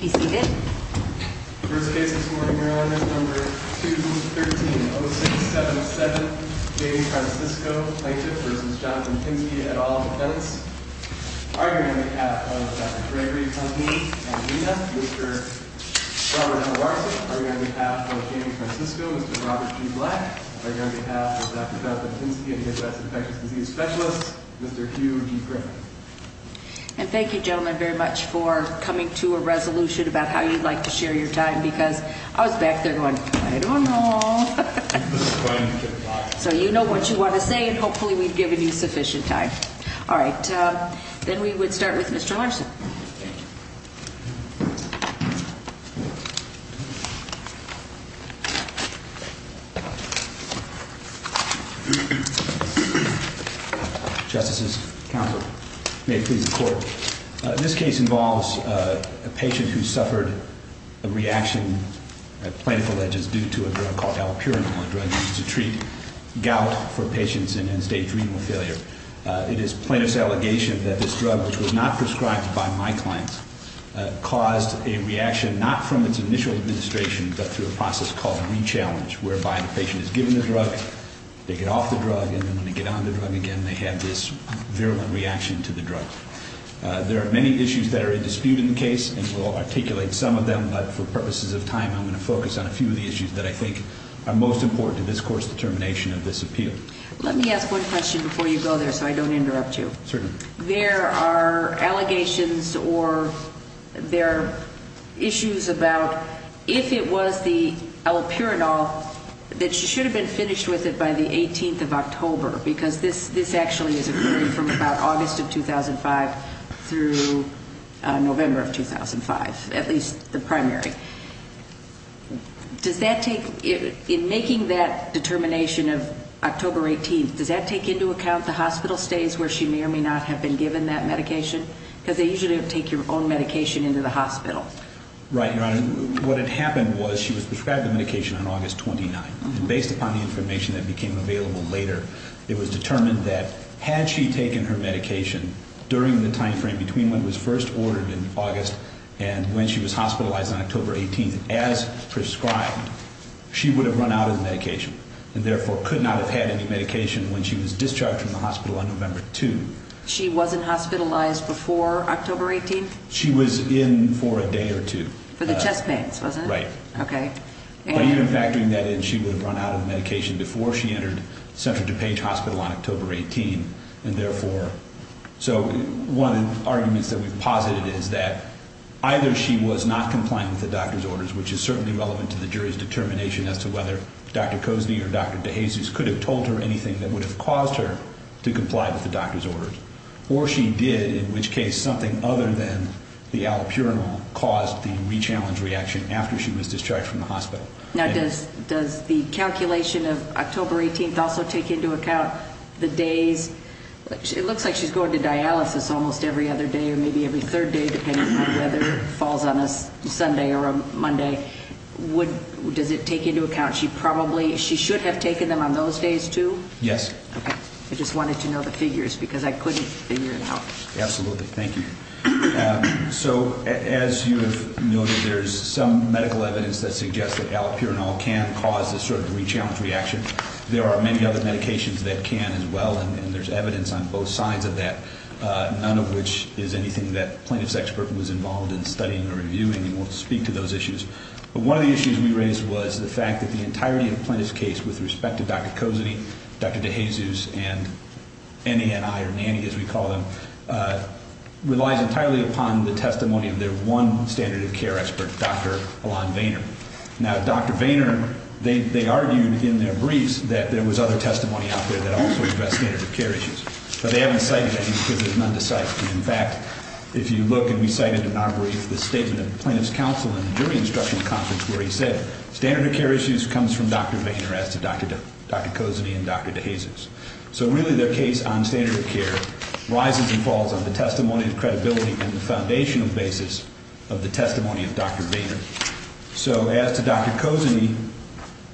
First case this morning, Maryland, is number 213-0677, Jamie Francisco, plaintiff, v. Jonathan Pinsky, et al., defense. Arguing on behalf of Dr. Gregory, company, and Lena, Mr. Robert M. Larson. Arguing on behalf of Jamie Francisco, Mr. Robert G. Black. Arguing on behalf of Dr. Jonathan Pinsky and his West Infectious Disease Specialist, Mr. Hugh G. And thank you gentlemen very much for coming to a resolution about how you'd like to share your time because I was back there going, I don't know. So you know what you want to say and hopefully we've given you sufficient time. Alright, then we would start with Mr. Larson. Thank you. Justices, counsel, may it please the court. This case involves a patient who suffered a reaction, a plaintiff alleges, due to a drug called allopurinol, a drug used to treat gout for patients in end-stage renal failure. It is plaintiff's allegation that this drug, which was not prescribed by my clients, caused a reaction, not from its initial administration, but through a process called re-challenge. Whereby the patient is given the drug, they get off the drug, and then when they get on the drug again, they have this virulent reaction to the drug. There are many issues that are in dispute in the case, and we'll articulate some of them. But for purposes of time, I'm going to focus on a few of the issues that I think are most important to this court's determination of this appeal. Let me ask one question before you go there so I don't interrupt you. Certainly. There are allegations or there are issues about if it was the allopurinol that should have been finished with it by the 18th of October, because this actually is occurring from about August of 2005 through November of 2005, at least the primary. In making that determination of October 18th, does that take into account the hospital stays where she may or may not have been given that medication? Because they usually don't take your own medication into the hospital. Right, Your Honor. What had happened was she was prescribed the medication on August 29th, and based upon the information that became available later, it was determined that had she taken her medication during the timeframe between when it was first ordered in August and when she was hospitalized on October 18th, as prescribed, she would have run out of the medication and therefore could not have had any medication when she was discharged from the hospital on November 2. She wasn't hospitalized before October 18th? She was in for a day or two. For the chest pains, wasn't it? Right. Okay. But even factoring that in, she would have run out of the medication before she entered Central DuPage Hospital on October 18th, and therefore, so one of the arguments that we've posited is that either she was not compliant with the doctor's orders, which is certainly relevant to the jury's determination as to whether Dr. Cozney or Dr. DeJesus could have told her anything that would have caused her to comply with the doctor's orders, or she did, in which case something other than the allopurinol caused the re-challenge reaction after she was discharged from the hospital. Now, does the calculation of October 18th also take into account the days? It looks like she's going to dialysis almost every other day or maybe every third day, depending on whether it falls on a Sunday or a Monday. Does it take into account she probably, she should have taken them on those days, too? Yes. Okay. I just wanted to know the figures because I couldn't figure it out. Absolutely. Thank you. So as you have noted, there's some medical evidence that suggests that allopurinol can cause this sort of re-challenge reaction. There are many other medications that can as well, and there's evidence on both sides of that, none of which is anything that a plaintiff's expert was involved in studying or reviewing, and we'll speak to those issues. But one of the issues we raised was the fact that the entirety of the plaintiff's case, with respect to Dr. Cozarty, Dr. DeJesus, and Annie and I, or Nannie as we call them, relies entirely upon the testimony of their one standard of care expert, Dr. Alon Vayner. Now, Dr. Vayner, they argued in their briefs that there was other testimony out there that also addressed standard of care issues, but they haven't cited any because there's none to cite. In fact, if you look and we cited in our brief the statement of the plaintiff's counsel in the jury instruction conference where he said, standard of care issues comes from Dr. Vayner as to Dr. Cozarty and Dr. DeJesus. So really their case on standard of care rises and falls on the testimony of credibility and the foundational basis of the testimony of Dr. Vayner. So as to Dr. Cozarty,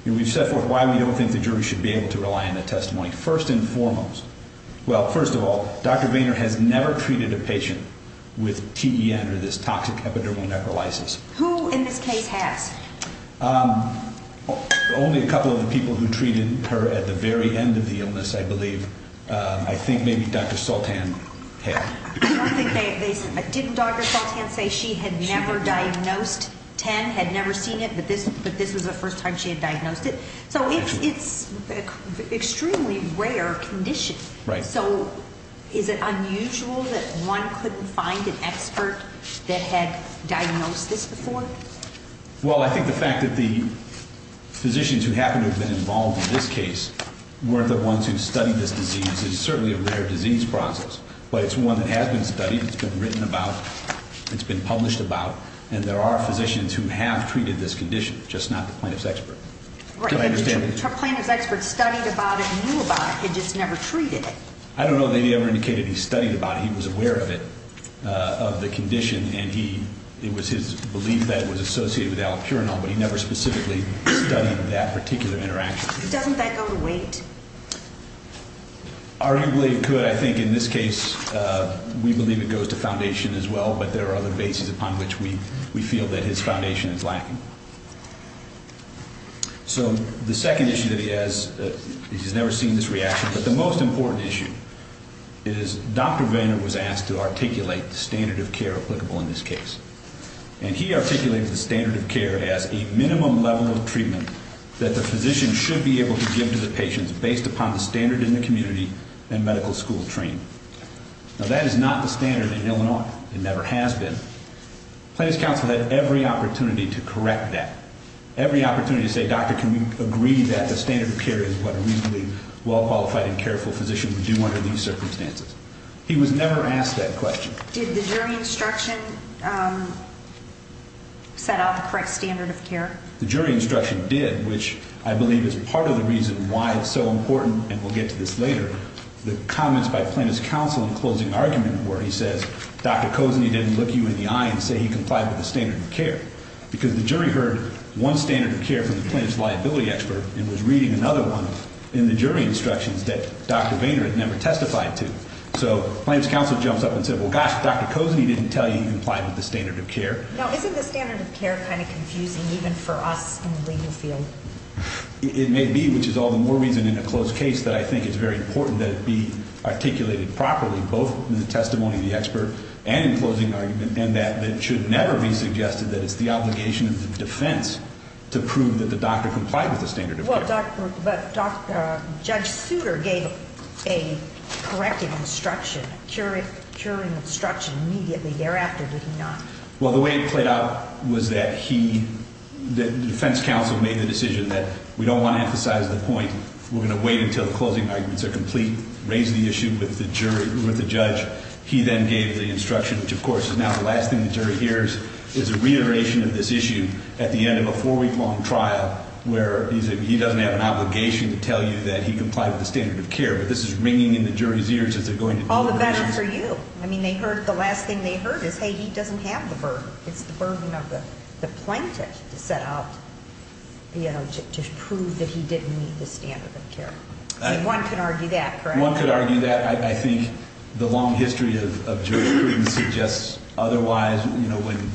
we've set forth why we don't think the jury should be able to rely on that testimony. First and foremost, well, first of all, Dr. Vayner has never treated a patient with TEN or this toxic epidermal necrolysis. Who in this case has? Only a couple of the people who treated her at the very end of the illness, I believe. I think maybe Dr. Soltan had. I don't think they said that. Didn't Dr. Soltan say she had never diagnosed TEN, had never seen it, but this was the first time she had diagnosed it? So it's an extremely rare condition. Right. So is it unusual that one couldn't find an expert that had diagnosed this before? Well, I think the fact that the physicians who happen to have been involved in this case were the ones who studied this disease is certainly a rare disease process, but it's one that has been studied, it's been written about, it's been published about, and there are physicians who have treated this condition, just not the plaintiff's expert. Right, but the plaintiff's expert studied about it and knew about it, he just never treated it. I don't know that he ever indicated he studied about it. He was aware of it, of the condition, and it was his belief that it was associated with allopurinol, but he never specifically studied that particular interaction. Doesn't that go to weight? Arguably it could. But I think in this case we believe it goes to foundation as well, but there are other bases upon which we feel that his foundation is lacking. So the second issue that he has, he's never seen this reaction, but the most important issue is Dr. Vander was asked to articulate the standard of care applicable in this case, and he articulated the standard of care as a minimum level of treatment that the physician should be able to give to the patient based upon the standard in the community and medical school training. Now, that is not the standard in Illinois. It never has been. Plaintiff's counsel had every opportunity to correct that, every opportunity to say, Doctor, can we agree that the standard of care is what a reasonably well-qualified and careful physician would do under these circumstances? He was never asked that question. Did the jury instruction set out the correct standard of care? The jury instruction did, which I believe is part of the reason why it's so important, and we'll get to this later, the comments by plaintiff's counsel in closing argument where he says, Dr. Kosanyi didn't look you in the eye and say he complied with the standard of care, because the jury heard one standard of care from the plaintiff's liability expert and was reading another one in the jury instructions that Dr. Vander had never testified to. So plaintiff's counsel jumps up and says, well, gosh, Dr. Kosanyi didn't tell you he complied with the standard of care. Now, isn't the standard of care kind of confusing even for us in the legal field? It may be, which is all the more reason in a closed case that I think it's very important that it be articulated properly, both in the testimony of the expert and in closing argument, and that it should never be suggested that it's the obligation of the defense to prove that the doctor complied with the standard of care. But Judge Souter gave a corrective instruction, jury instruction immediately thereafter, did he not? Well, the way it played out was that he, the defense counsel, made the decision that we don't want to emphasize the point. We're going to wait until the closing arguments are complete, raise the issue with the jury, with the judge. He then gave the instruction, which of course is now the last thing the jury hears, is a reiteration of this issue at the end of a four-week-long trial where he doesn't have an obligation to tell you that he complied with the standard of care. But this is ringing in the jury's ears as they're going through the motions. All the better for you. I mean, the last thing they heard is, hey, he doesn't have the burden. It's the burden of the plaintiff to set out, you know, to prove that he didn't meet the standard of care. One could argue that, correct? One could argue that. I think the long history of jurisprudence suggests otherwise. You know, when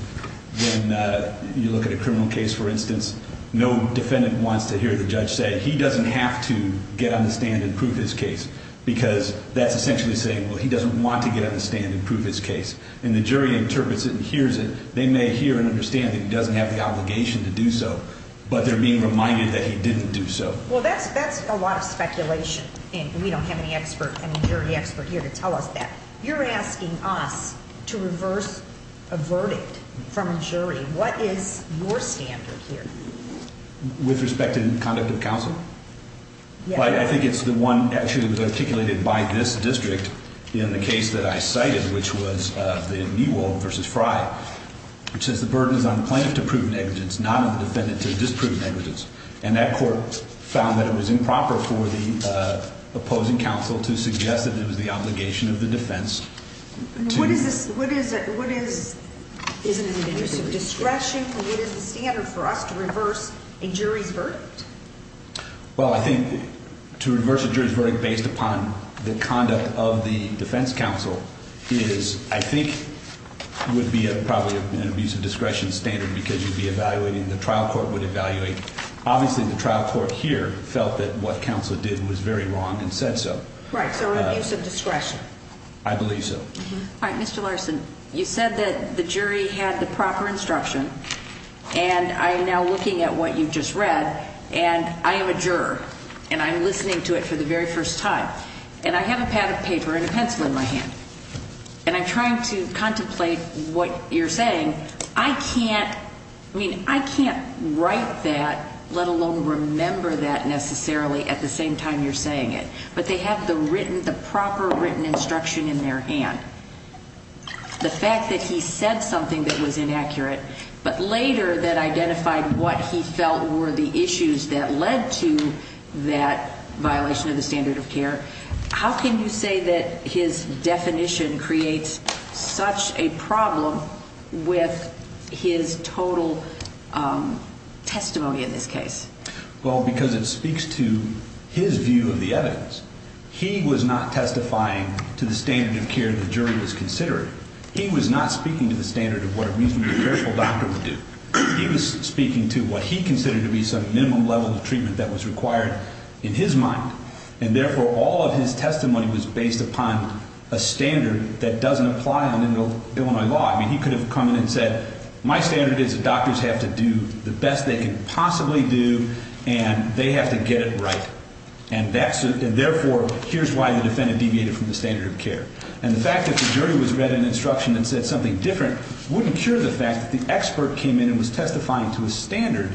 you look at a criminal case, for instance, no defendant wants to hear the judge say, he doesn't have to get on the stand and prove his case, because that's essentially saying, well, he doesn't want to get on the stand and prove his case. And the jury interprets it and hears it. They may hear and understand that he doesn't have the obligation to do so, but they're being reminded that he didn't do so. Well, that's a lot of speculation, and we don't have any expert, any jury expert here to tell us that. You're asking us to reverse a verdict from a jury. What is your standard here? With respect to conduct of counsel? Yes. I think it's the one actually that was articulated by this district in the case that I cited, which was the Niewold v. Frye, which says the burden is on the plaintiff to prove negligence, not on the defendant to disprove negligence. And that court found that it was improper for the opposing counsel to suggest that it was the obligation of the defense to do so. Isn't it an abuse of discretion? What is the standard for us to reverse a jury's verdict? Well, I think to reverse a jury's verdict based upon the conduct of the defense counsel is, I think, would be probably an abuse of discretion standard because you'd be evaluating, the trial court would evaluate. Obviously the trial court here felt that what counsel did was very wrong and said so. Right, so an abuse of discretion. I believe so. All right, Mr. Larson, you said that the jury had the proper instruction, and I am now looking at what you just read, and I am a juror, and I'm listening to it for the very first time. And I have a pad of paper and a pencil in my hand, and I'm trying to contemplate what you're saying. I can't write that, let alone remember that necessarily at the same time you're saying it. But they have the proper written instruction in their hand. The fact that he said something that was inaccurate but later that identified what he felt were the issues that led to that violation of the standard of care, how can you say that his definition creates such a problem with his total testimony in this case? Well, because it speaks to his view of the evidence. He was not testifying to the standard of care the jury was considering. He was not speaking to the standard of what a reasonably careful doctor would do. He was speaking to what he considered to be some minimum level of treatment that was required in his mind, and therefore all of his testimony was based upon a standard that doesn't apply in Illinois law. I mean, he could have come in and said, my standard is that doctors have to do the best they can possibly do, and they have to get it right, and therefore here's why the defendant deviated from the standard of care. And the fact that the jury was read an instruction and said something different wouldn't cure the fact that the expert came in and was testifying to a standard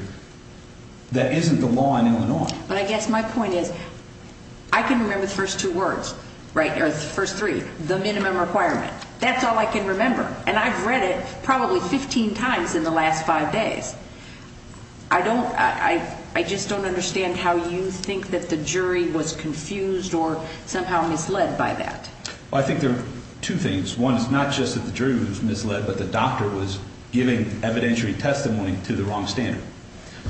that isn't the law in Illinois. But I guess my point is I can remember the first two words, or the first three, the minimum requirement. That's all I can remember, and I've read it probably 15 times in the last five days. I just don't understand how you think that the jury was confused or somehow misled by that. Well, I think there are two things. One is not just that the jury was misled, but the doctor was giving evidentiary testimony to the wrong standard.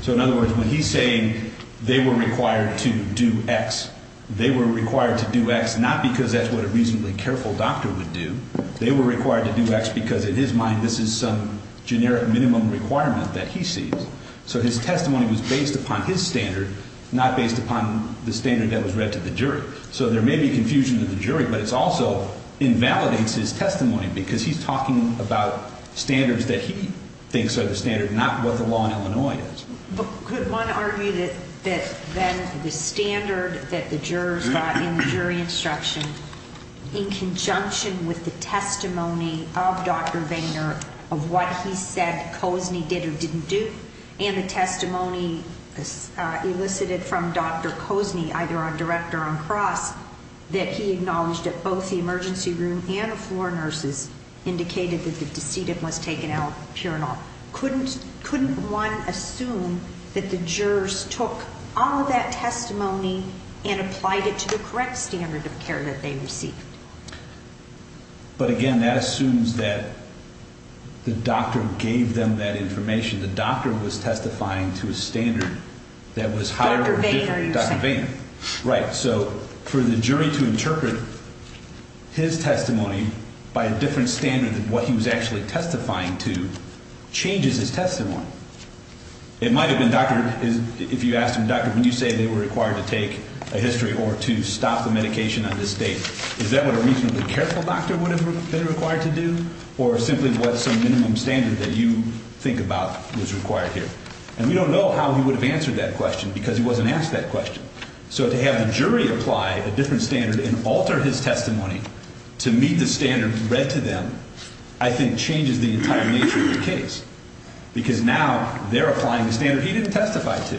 So in other words, when he's saying they were required to do X, they were required to do X not because that's what a reasonably careful doctor would do. They were required to do X because in his mind this is some generic minimum requirement that he sees. So his testimony was based upon his standard, not based upon the standard that was read to the jury. So there may be confusion to the jury, but it also invalidates his testimony because he's talking about standards that he thinks are the standard, not what the law in Illinois is. But could one argue that then the standard that the jurors got in the jury instruction, in conjunction with the testimony of Dr. Vainer of what he said Cozney did or didn't do, and the testimony elicited from Dr. Cozney, either on direct or on cross, that he acknowledged that both the emergency room and the floor nurses indicated that the decedent was taken out, couldn't one assume that the jurors took all of that testimony and applied it to the correct standard of care that they received? But again, that assumes that the doctor gave them that information. The doctor was testifying to a standard that was higher than Dr. Vainer. Right. So for the jury to interpret his testimony by a different standard than what he was actually testifying to changes his testimony. It might have been, doctor, if you asked him, doctor, when you say they were required to take a history or to stop the medication on this date, is that what a reasonably careful doctor would have been required to do or simply what some minimum standard that you think about was required here? And we don't know how he would have answered that question because he wasn't asked that question. So to have the jury apply a different standard and alter his testimony to meet the standard read to them, I think, changes the entire nature of the case because now they're applying a standard he didn't testify to.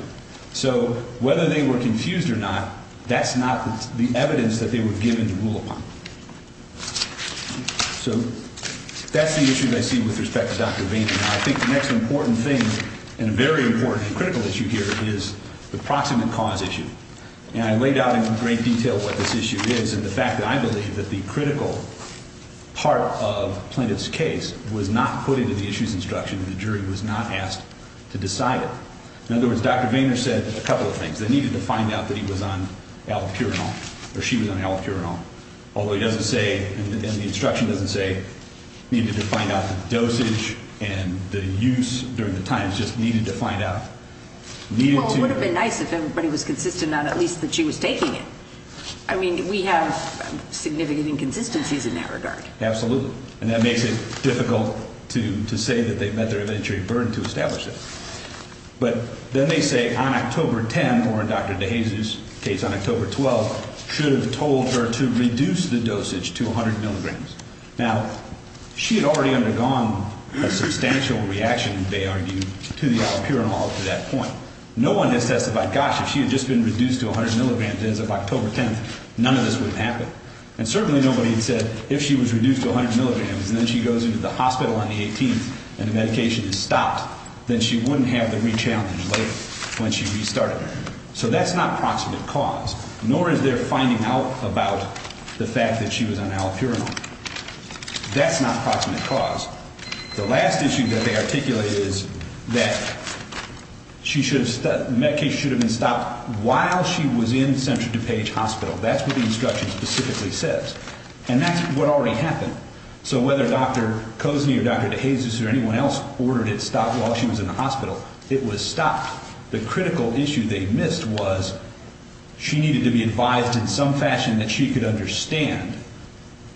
So whether they were confused or not, that's not the evidence that they were given to rule upon. So that's the issues I see with respect to Dr. Vainer. Now, I think the next important thing and a very important critical issue here is the proximate cause issue. And I laid out in great detail what this issue is and the fact that I believe that the critical part of Plaintiff's case was not put into the issues instruction and the jury was not asked to decide it. In other words, Dr. Vainer said a couple of things. They needed to find out that he was on allopurinol or she was on allopurinol, although he doesn't say and the instruction doesn't say needed to find out the dosage and the use during the time. It just needed to find out. Well, it would have been nice if everybody was consistent on at least that she was taking it. I mean, we have significant inconsistencies in that regard. Absolutely. And that makes it difficult to say that they met their inventory burden to establish it. But then they say on October 10, or in Dr. DeJesus' case on October 12, should have told her to reduce the dosage to 100 milligrams. Now, she had already undergone a substantial reaction, they argued, to the allopurinol up to that point. No one has testified, gosh, if she had just been reduced to 100 milligrams as of October 10, none of this would have happened. And certainly nobody had said if she was reduced to 100 milligrams and then she goes into the hospital on the 18th and the medication is stopped, then she wouldn't have the rechallenge later when she restarted. So that's not proximate cause, nor is there finding out about the fact that she was on allopurinol. That's not proximate cause. The last issue that they articulate is that the medication should have been stopped while she was in Central DuPage Hospital. That's what the instruction specifically says. And that's what already happened. So whether Dr. Kozny or Dr. DeJesus or anyone else ordered it stopped while she was in the hospital, it was stopped. The critical issue they missed was she needed to be advised in some fashion that she could understand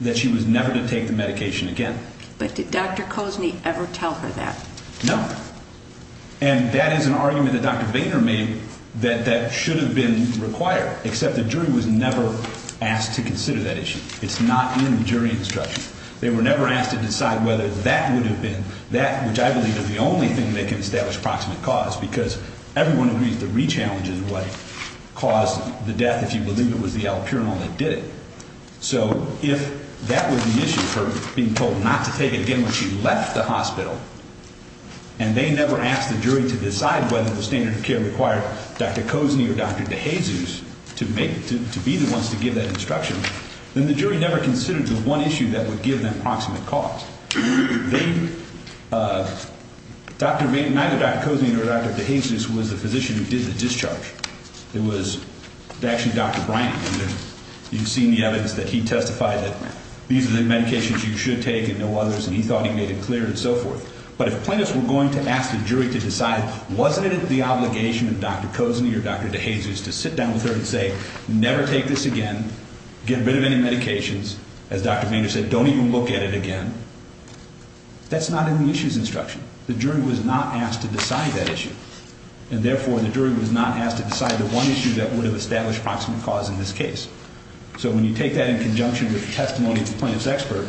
that she was never to take the medication again. But did Dr. Kozny ever tell her that? No. And that is an argument that Dr. Boehner made that that should have been required, except the jury was never asked to consider that issue. It's not in the jury instruction. They were never asked to decide whether that would have been that, which I believe is the only thing that can establish proximate cause because everyone agrees the rechallenge is what caused the death, if you believe it, was the allopurinol that did it. So if that was the issue for being told not to take it again when she left the hospital and they never asked the jury to decide whether the standard of care required Dr. Kozny or Dr. DeJesus to be the ones to give that instruction, then the jury never considered the one issue that would give them proximate cause. Neither Dr. Kozny nor Dr. DeJesus was the physician who did the discharge. It was actually Dr. Brian Boehner. You've seen the evidence that he testified that these are the medications you should take and no others, and he thought he made it clear and so forth. But if plaintiffs were going to ask the jury to decide, wasn't it the obligation of Dr. Kozny or Dr. DeJesus to sit down with her and say, never take this again, get rid of any medications, as Dr. Boehner said, don't even look at it again, that's not in the issues instruction. The jury was not asked to decide that issue, and therefore the jury was not asked to decide the one issue that would have established proximate cause in this case. So when you take that in conjunction with the testimony of the plaintiff's expert,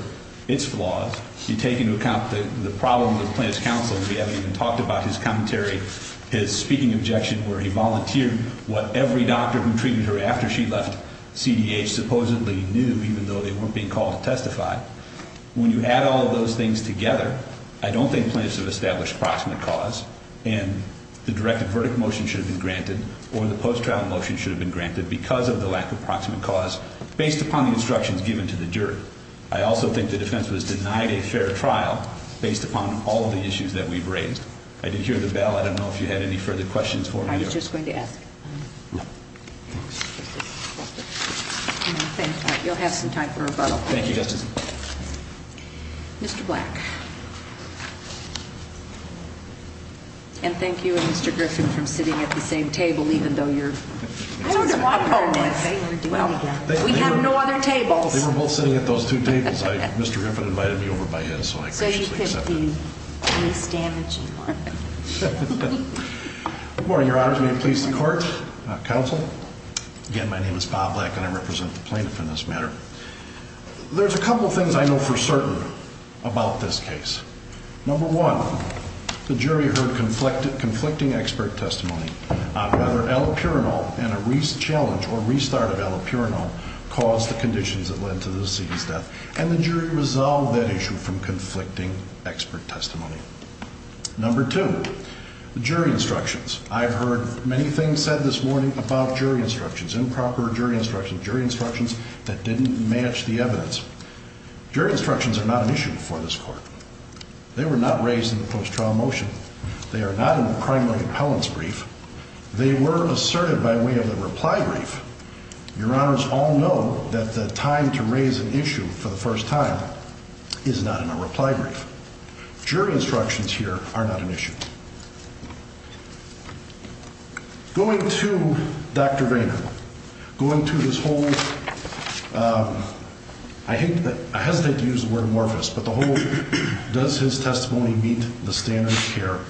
its flaws, you take into account the problem with the plaintiff's counsel, we haven't even talked about his commentary, his speaking objection where he volunteered what every doctor who treated her after she left CDH supposedly knew, even though they weren't being called to testify. When you add all of those things together, I don't think plaintiffs have established proximate cause, and the directed verdict motion should have been granted, or the post-trial motion should have been granted because of the lack of proximate cause, based upon the instructions given to the jury. I also think the defense was denied a fair trial based upon all of the issues that we've raised. I did hear the bell, I don't know if you had any further questions for me. I was just going to ask. You'll have some time for rebuttal. Thank you, Justice. Mr. Black. And thank you and Mr. Griffin for sitting at the same table, even though you're opponents. We have no other tables. They were both sitting at those two tables. Mr. Griffin invited me over by his, so I graciously accepted. So you could be least damaging. Good morning, Your Honors. May it please the Court, Counsel. Again, my name is Bob Black, and I represent the plaintiff in this matter. There's a couple things I know for certain about this case. Number one, the jury heard conflicting expert testimony. Rather, allopurinol and a challenge or restart of allopurinol caused the conditions that led to the deceased's death, and the jury resolved that issue from conflicting expert testimony. Number two, the jury instructions. I've heard many things said this morning about jury instructions, improper jury instructions, jury instructions that didn't match the evidence. Jury instructions are not an issue for this Court. They were not raised in the post-trial motion. They are not in the primary appellant's brief. They were asserted by way of the reply brief. Your Honors all know that the time to raise an issue for the first time is not in a reply brief. Jury instructions here are not an issue. Going to Dr. Boehner, going to his whole, I hesitate to use the word amorphous, but the whole does his testimony meet the standard of care,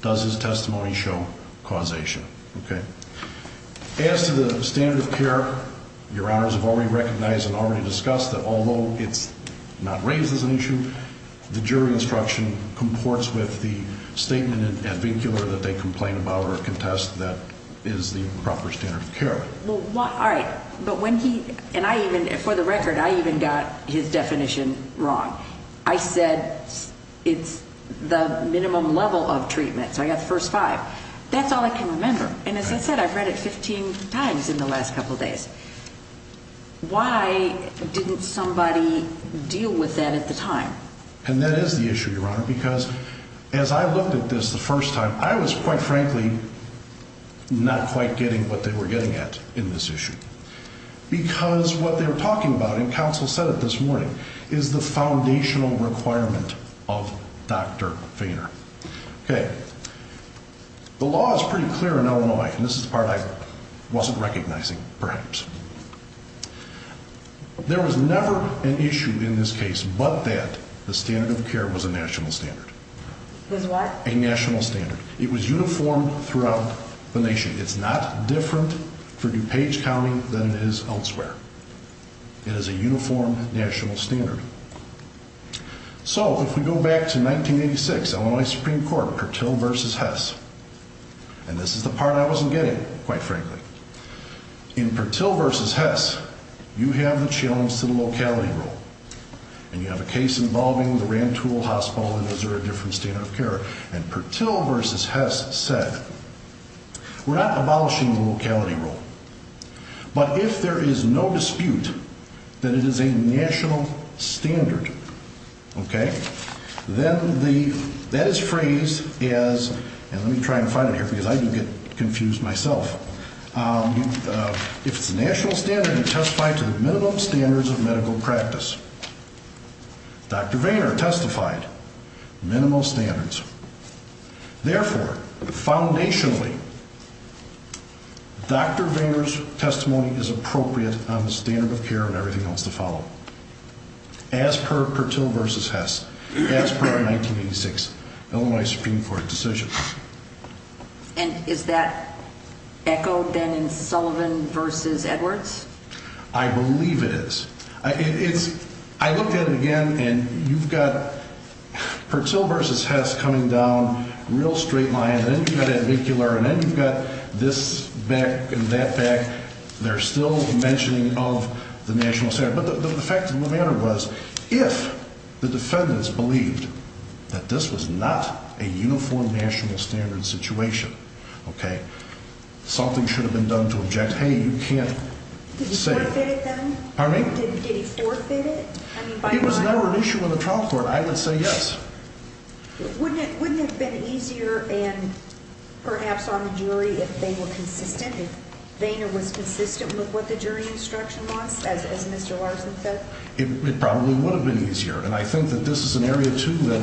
does his testimony show causation, okay? As to the standard of care, Your Honors have already recognized and already discussed that although it's not raised as an issue, the jury instruction comports with the statement ad vincular that they complain about or contest that is the proper standard of care. All right, but when he, and I even, for the record, I even got his definition wrong. I said it's the minimum level of treatment, so I got the first five. That's all I can remember, and as I said, I've read it 15 times in the last couple days. Why didn't somebody deal with that at the time? And that is the issue, Your Honor, because as I looked at this the first time, I was quite frankly not quite getting what they were getting at in this issue because what they were talking about, and counsel said it this morning, is the foundational requirement of Dr. Boehner. Okay, the law is pretty clear in Illinois, and this is the part I wasn't recognizing perhaps. There was never an issue in this case but that the standard of care was a national standard. It was what? A national standard. It was uniform throughout the nation. It's not different for DuPage County than it is elsewhere. It is a uniform national standard. So if we go back to 1986, Illinois Supreme Court, Purtill v. Hess, and this is the part I wasn't getting, quite frankly. In Purtill v. Hess, you have the challenge to the locality rule, and you have a case involving the Rantoul Hospital in Missouri, different standard of care, and Purtill v. Hess said, we're not abolishing the locality rule, but if there is no dispute that it is a national standard, then that is phrased as, and let me try and find it here because I do get confused myself, if it's a national standard, it testifies to the minimum standards of medical practice. Dr. Boehner testified, minimal standards. Therefore, foundationally, Dr. Boehner's testimony is appropriate on the standard of care and everything else to follow, as per Purtill v. Hess, as per 1986 Illinois Supreme Court decision. And is that echoed then in Sullivan v. Edwards? I believe it is. I looked at it again, and you've got Purtill v. Hess coming down a real straight line, and then you've got Advecular, and then you've got this back and that back. They're still mentioning of the national standard. But the fact of the matter was, if the defendants believed that this was not a uniform national standard situation, something should have been done to object, hey, you can't say. Did he forfeit it then? Pardon me? Did he forfeit it? It was never an issue in the trial court. I would say yes. Wouldn't it have been easier and perhaps on the jury if they were consistent, if Boehner was consistent with what the jury instruction wants, as Mr. Larson said? It probably would have been easier. And I think that this is an area, too, that,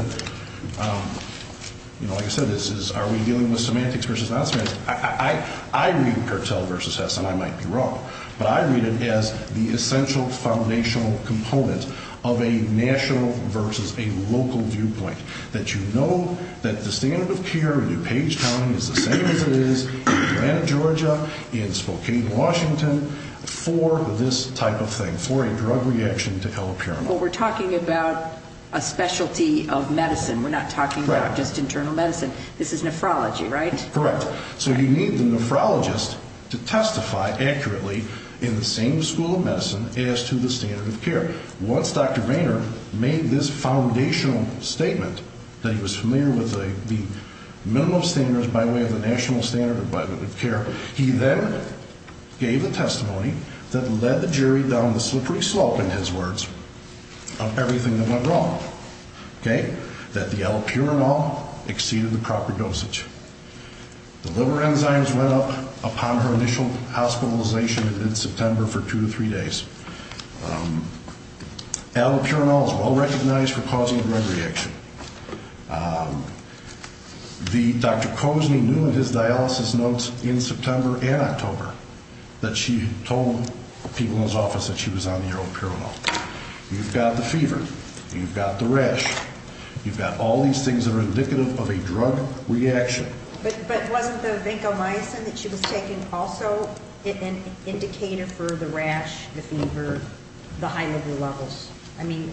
like I said, are we dealing with semantics versus non-semantics? I read Purtill v. Hess, and I might be wrong, but I read it as the essential foundational component of a national versus a local viewpoint, that you know that the standard of care in DuPage County is the same as it is in Atlanta, Georgia, in Spokane, Washington, for this type of thing, for a drug reaction to helipiramide. But we're talking about a specialty of medicine. We're not talking about just internal medicine. This is nephrology, right? Correct. So you need the nephrologist to testify accurately in the same school of medicine as to the standard of care. Once Dr. Boehner made this foundational statement that he was familiar with the minimum standards by way of the national standard of care, he then gave a testimony that led the jury down the slippery slope, in his words, of everything that went wrong, okay? that the allopurinol exceeded the proper dosage. The liver enzymes went up upon her initial hospitalization in September for two to three days. Allopurinol is well-recognized for causing a drug reaction. Dr. Cozney knew in his dialysis notes in September and October that she had told people in his office that she was on the allopurinol. You've got the fever. You've got the rash. You've got all these things that are indicative of a drug reaction. But wasn't the vancomycin that she was taking also an indicator for the rash, the fever, the high liver levels? I mean,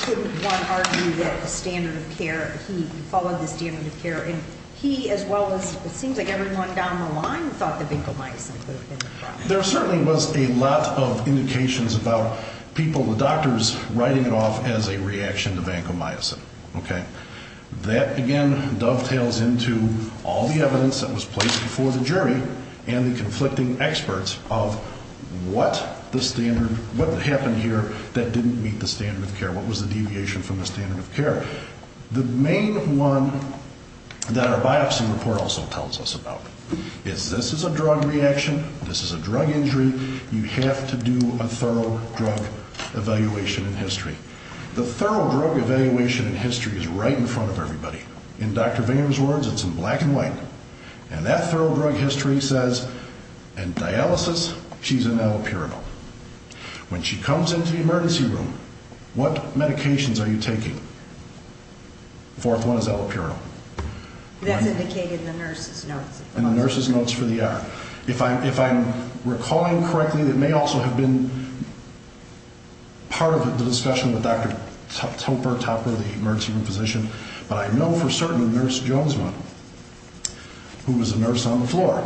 couldn't one argue that the standard of care, he followed the standard of care, and he, as well as it seems like everyone down the line, thought the vancomycin could have been the problem. There certainly was a lot of indications about people, the doctors, writing it off as a reaction to vancomycin, okay? That, again, dovetails into all the evidence that was placed before the jury and the conflicting experts of what the standard, what happened here that didn't meet the standard of care. What was the deviation from the standard of care? The main one that our biopsy report also tells us about is this is a drug reaction, this is a drug injury, you have to do a thorough drug evaluation in history. The thorough drug evaluation in history is right in front of everybody. In Dr. Vayner's words, it's in black and white. And that thorough drug history says, in dialysis, she's an allopurinol. When she comes into the emergency room, what medications are you taking? Fourth one is allopurinol. That's indicated in the nurse's notes. In the nurse's notes for the hour. If I'm recalling correctly, it may also have been part of the discussion with Dr. Topper, the emergency room physician, but I know for certain Nurse Jonesman, who was a nurse on the floor,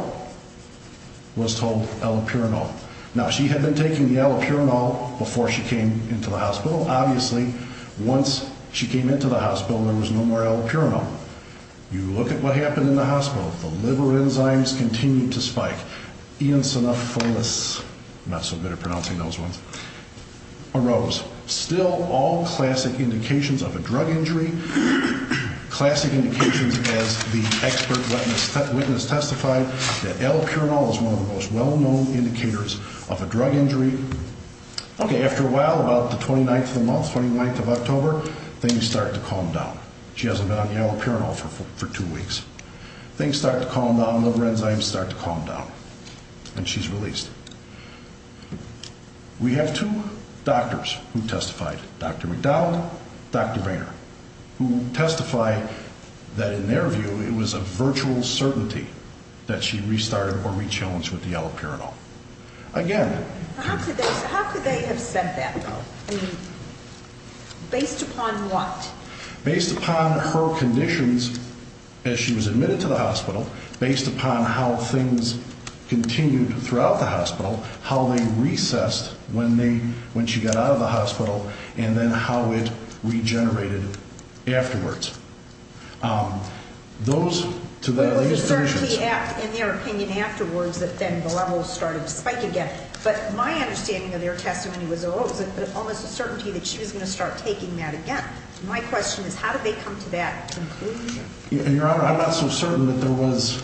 was told allopurinol. Now, she had been taking the allopurinol before she came into the hospital. Obviously, once she came into the hospital, there was no more allopurinol. Now, you look at what happened in the hospital. The liver enzymes continued to spike. Eosinophilus, I'm not so good at pronouncing those ones, arose. Still, all classic indications of a drug injury, classic indications as the expert witness testified, that allopurinol is one of the most well-known indicators of a drug injury. Okay, after a while, about the 29th of the month, 29th of October, things start to calm down. She hasn't been on allopurinol for two weeks. Things start to calm down, liver enzymes start to calm down, and she's released. We have two doctors who testified, Dr. McDonald and Dr. Vainer, who testify that in their view it was a virtual certainty that she restarted or re-challenged with the allopurinol. How could they have said that, though? Based upon what? Based upon her conditions as she was admitted to the hospital, based upon how things continued throughout the hospital, how they recessed when she got out of the hospital, and then how it regenerated afterwards. Those are the conditions. It was a certainty in their opinion afterwards that then the levels started to spike again. But my understanding of their testimony was there was almost a certainty that she was going to start taking that again. My question is how did they come to that conclusion? Your Honor, I'm not so certain that there was,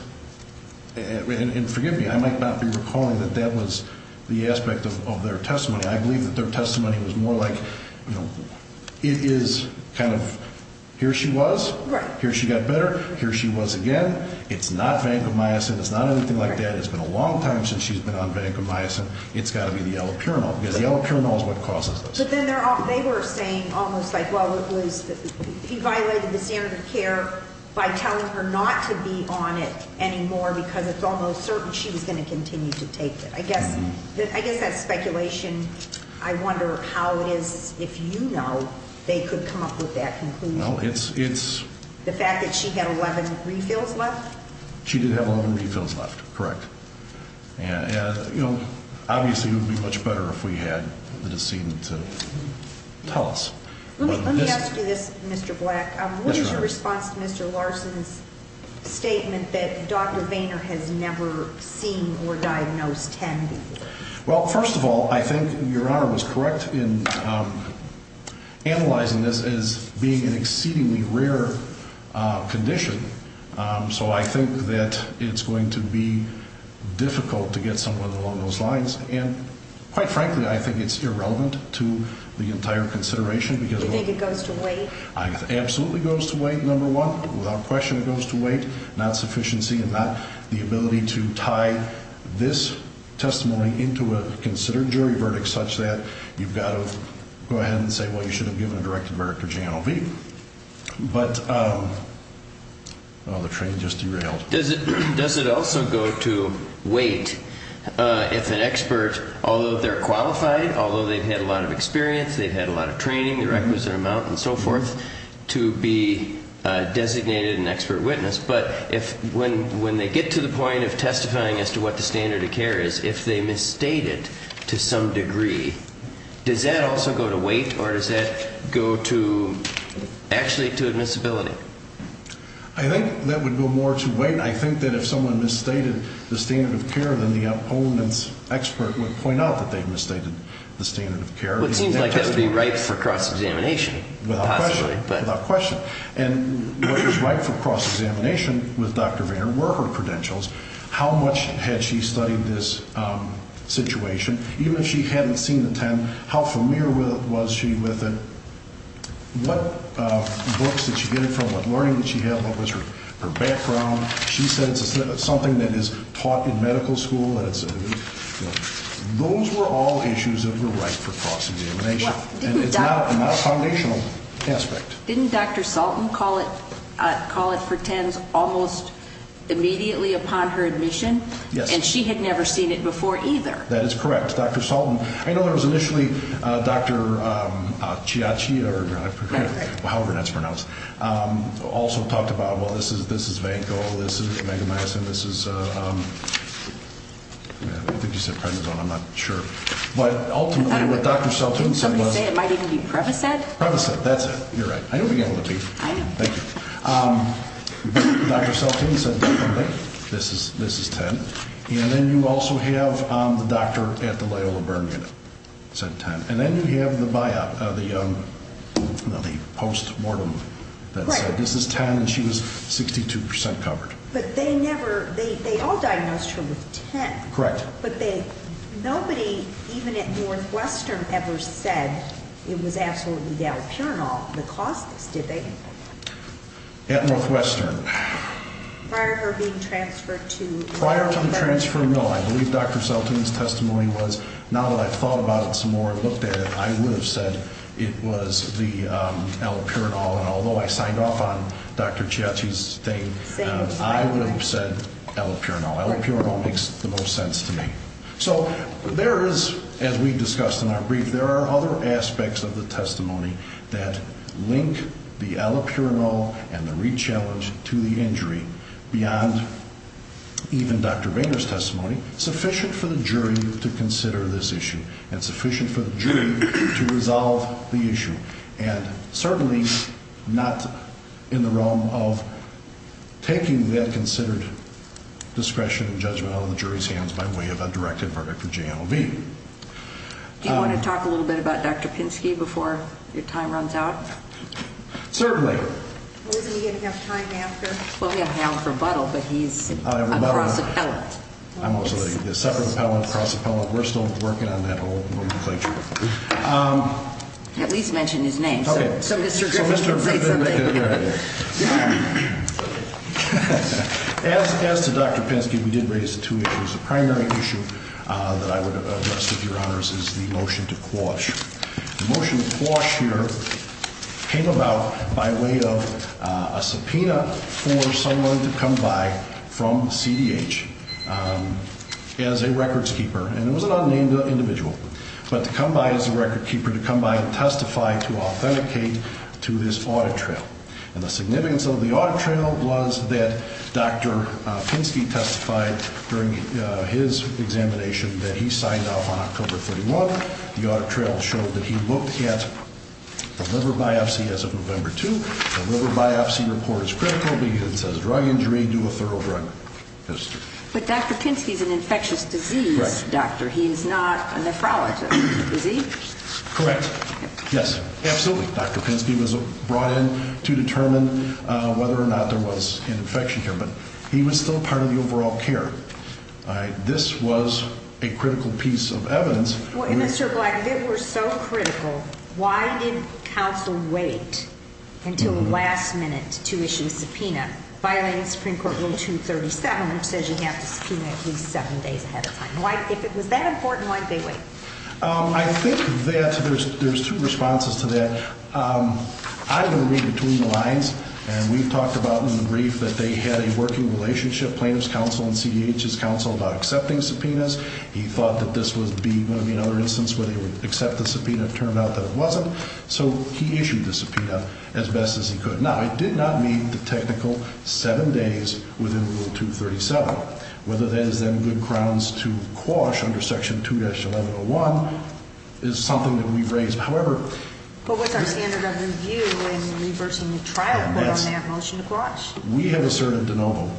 and forgive me, I might not be recalling that that was the aspect of their testimony. I believe that their testimony was more like it is kind of here she was, here she got better, here she was again. It's not vancomycin, it's not anything like that. It's been a long time since she's been on vancomycin. It's got to be the allopurinol because the allopurinol is what causes this. But then they were saying almost like, well, he violated the standard of care by telling her not to be on it anymore because it's almost certain she was going to continue to take it. I guess that's speculation. I wonder how it is, if you know, they could come up with that conclusion. No, it's- The fact that she had 11 refills left? She did have 11 refills left, correct. And, you know, obviously it would be much better if we had the decedent to tell us. Let me ask you this, Mr. Black. What is your response to Mr. Larson's statement that Dr. Vayner has never seen or diagnosed TAM before? Well, first of all, I think Your Honor was correct in analyzing this as being an exceedingly rare condition. So I think that it's going to be difficult to get someone along those lines. And quite frankly, I think it's irrelevant to the entire consideration because- Do you think it goes to wait? It absolutely goes to wait, number one. Without question it goes to wait. Not sufficiency and not the ability to tie this testimony into a considered jury verdict such that you've got to go ahead and say, well, you should have given a directed verdict or J&OB. But the train just derailed. Does it also go to wait if an expert, although they're qualified, although they've had a lot of experience, they've had a lot of training, the requisite amount and so forth, to be designated an expert witness? But when they get to the point of testifying as to what the standard of care is, if they misstate it to some degree, does that also go to wait or does that go to actually to admissibility? I think that would go more to wait. I think that if someone misstated the standard of care, then the opponent's expert would point out that they've misstated the standard of care. It seems like that would be right for cross-examination. Without question. Possibly, but- Without question. And what was right for cross-examination with Dr. Vayner were her credentials. How much had she studied this situation? Even if she hadn't seen the 10, how familiar was she with it? What books did she get it from? What learning did she have? What was her background? She said it's something that is taught in medical school. Those were all issues that were right for cross-examination. And it's not a foundational aspect. Didn't Dr. Salton call it for 10s almost immediately upon her admission? Yes. And she had never seen it before either. That is correct. Dr. Salton. I know there was initially Dr. Chiachi, or however that's pronounced, also talked about, well, this is vanco, this is megamycin, this is, I think you said prednisone. I'm not sure. But ultimately what Dr. Salton said was- Did somebody say it might even be Prevacet? Prevacet. Prevacet. That's it. You're right. I know we got a little late. I know. Thank you. Dr. Salton said definitely this is 10. And then you also have the doctor at the Loyola Burn Unit said 10. And then you have the post-mortem that said this is 10 and she was 62% covered. But they never, they all diagnosed her with 10. Correct. But nobody even at Northwestern ever said it was absolutely the allopurinol that caused this, did they? At Northwestern. Prior to her being transferred to Loyola Burn? Prior to the transfer, no. I believe Dr. Salton's testimony was, now that I've thought about it some more and looked at it, I would have said it was the allopurinol. And although I signed off on Dr. Chiachi's thing, I would have said allopurinol. Allopurinol makes the most sense to me. So there is, as we discussed in our brief, there are other aspects of the testimony that link the allopurinol and the rechallenge to the injury beyond even Dr. Boehner's testimony, sufficient for the jury to consider this issue and sufficient for the jury to resolve the issue. And certainly not in the realm of taking that considered discretion and judgment out of the jury's hands by way of a directed verdict for JNLV. Do you want to talk a little bit about Dr. Pinsky before your time runs out? Certainly. Well, isn't he going to have time after? Well, he'll have time for rebuttal, but he's a cross appellate. I'm also a separate appellate, cross appellate. We're still working on that whole nomenclature. At least mention his name so Mr. Griffith can say something. As to Dr. Pinsky, we did raise two issues. The primary issue that I would address with your honors is the motion to quash. The motion to quash here came about by way of a subpoena for someone to come by from CDH as a records keeper. And it was an unnamed individual. But to come by as a record keeper, to come by and testify to authenticate to this audit trail. And the significance of the audit trail was that Dr. Pinsky testified during his examination that he signed off on October 31. The audit trail showed that he looked at the liver biopsy as of November 2. The liver biopsy report is critical because it says drug injury, do a thorough drug test. But Dr. Pinsky is an infectious disease doctor. He is not a nephrologist, is he? Correct. Yes, absolutely. Dr. Pinsky was brought in to determine whether or not there was an infection here. But he was still part of the overall care. This was a critical piece of evidence. Mr. Black, if it were so critical, why didn't counsel wait until the last minute to issue a subpoena? Violating Supreme Court Rule 237, which says you have to subpoena at least seven days ahead of time. If it was that important, why didn't they wait? I think that there's two responses to that. I'm going to read between the lines. And we've talked about in the brief that they had a working relationship, plaintiff's counsel and CDH's counsel, about accepting subpoenas. He thought that this was going to be another instance where they would accept the subpoena. It turned out that it wasn't. So he issued the subpoena as best as he could. Now, it did not meet the technical seven days within Rule 237. Whether that is then good grounds to quash under Section 2-1101 is something that we've raised. However- But what's our standard of review in reversing the trial? Yes. But on that motion to quash? We have asserted de novo.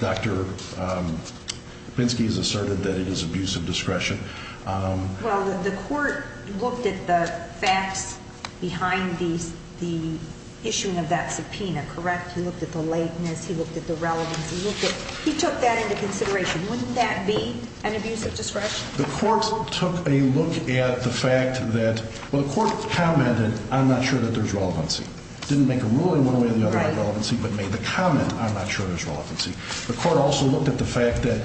Dr. Pinsky has asserted that it is abuse of discretion. Well, the court looked at the facts behind the issuing of that subpoena, correct? He looked at the lateness. He looked at the relevance. He looked at- he took that into consideration. Wouldn't that be an abuse of discretion? The court took a look at the fact that- well, the court commented, I'm not sure that there's relevancy. Didn't make a ruling one way or the other on relevancy, but made the comment, I'm not sure there's relevancy. The court also looked at the fact that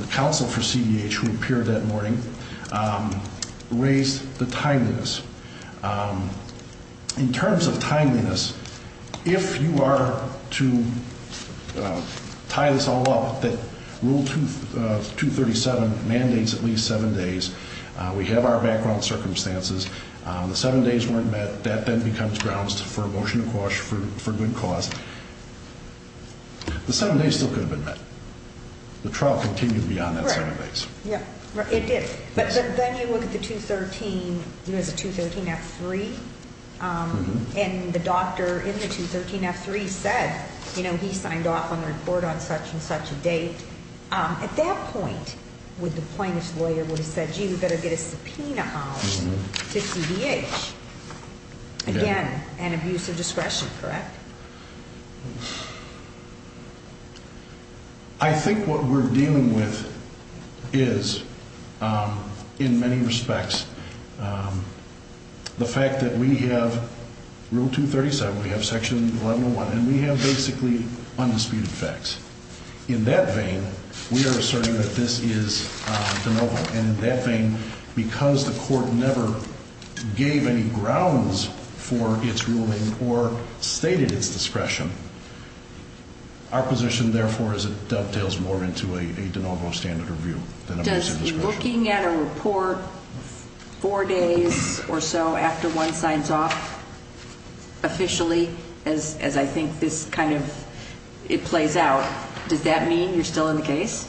the counsel for CDH who appeared that morning raised the timeliness. In terms of timeliness, if you are to tie this all up, that Rule 237 mandates at least seven days. We have our background circumstances. The seven days weren't met. That then becomes grounds for a motion to quash for good cause. The seven days still could have been met. The trial continued beyond that seven days. Right. Yeah. It did. But then you look at the 213- there's a 213-F3. And the doctor in the 213-F3 said, you know, he signed off on the report on such and such a date. At that point, would the plaintiff's lawyer would have said, gee, we better get a subpoena on to CDH. Again, an abuse of discretion, correct? I think what we're dealing with is, in many respects, the fact that we have Rule 237, we have Section 1101, and we have basically undisputed facts. In that vein, we are asserting that this is de novo. And in that vein, because the court never gave any grounds for its ruling or stated its discretion, our position, therefore, is it dovetails more into a de novo standard review than abuse of discretion. When you're looking at a report four days or so after one signs off officially, as I think this kind of- it plays out, does that mean you're still in the case?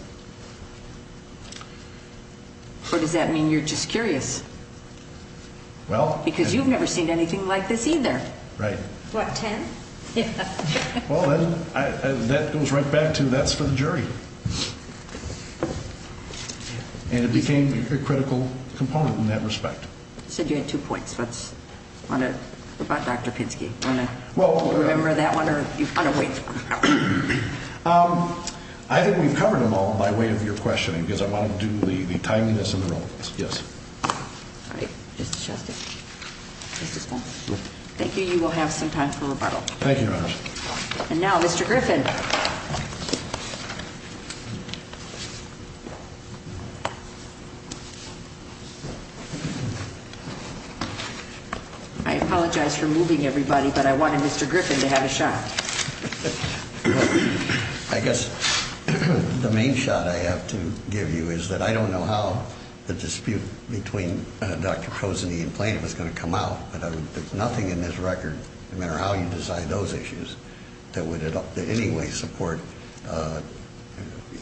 Or does that mean you're just curious? Well- Because you've never seen anything like this either. Right. What, 10? Well, that goes right back to that's for the jury. And it became a critical component in that respect. You said you had two points. What about Dr. Pinsky? Well- Do you remember that one, or do you want to wait for it? I think we've covered them all by way of your questioning, because I want to do the timeliness in the room. Yes. All right. Mr. Shuster. Mr. Stone. Thank you. You will have some time for rebuttal. Thank you, Your Honor. And now, Mr. Griffin. I apologize for moving everybody, but I wanted Mr. Griffin to have a shot. I guess the main shot I have to give you is that I don't know how the dispute between Dr. Poseny and Plaintiff is going to come out. But there's nothing in this record, no matter how you decide those issues, that would at all- that any one of us would agree with. I don't personally support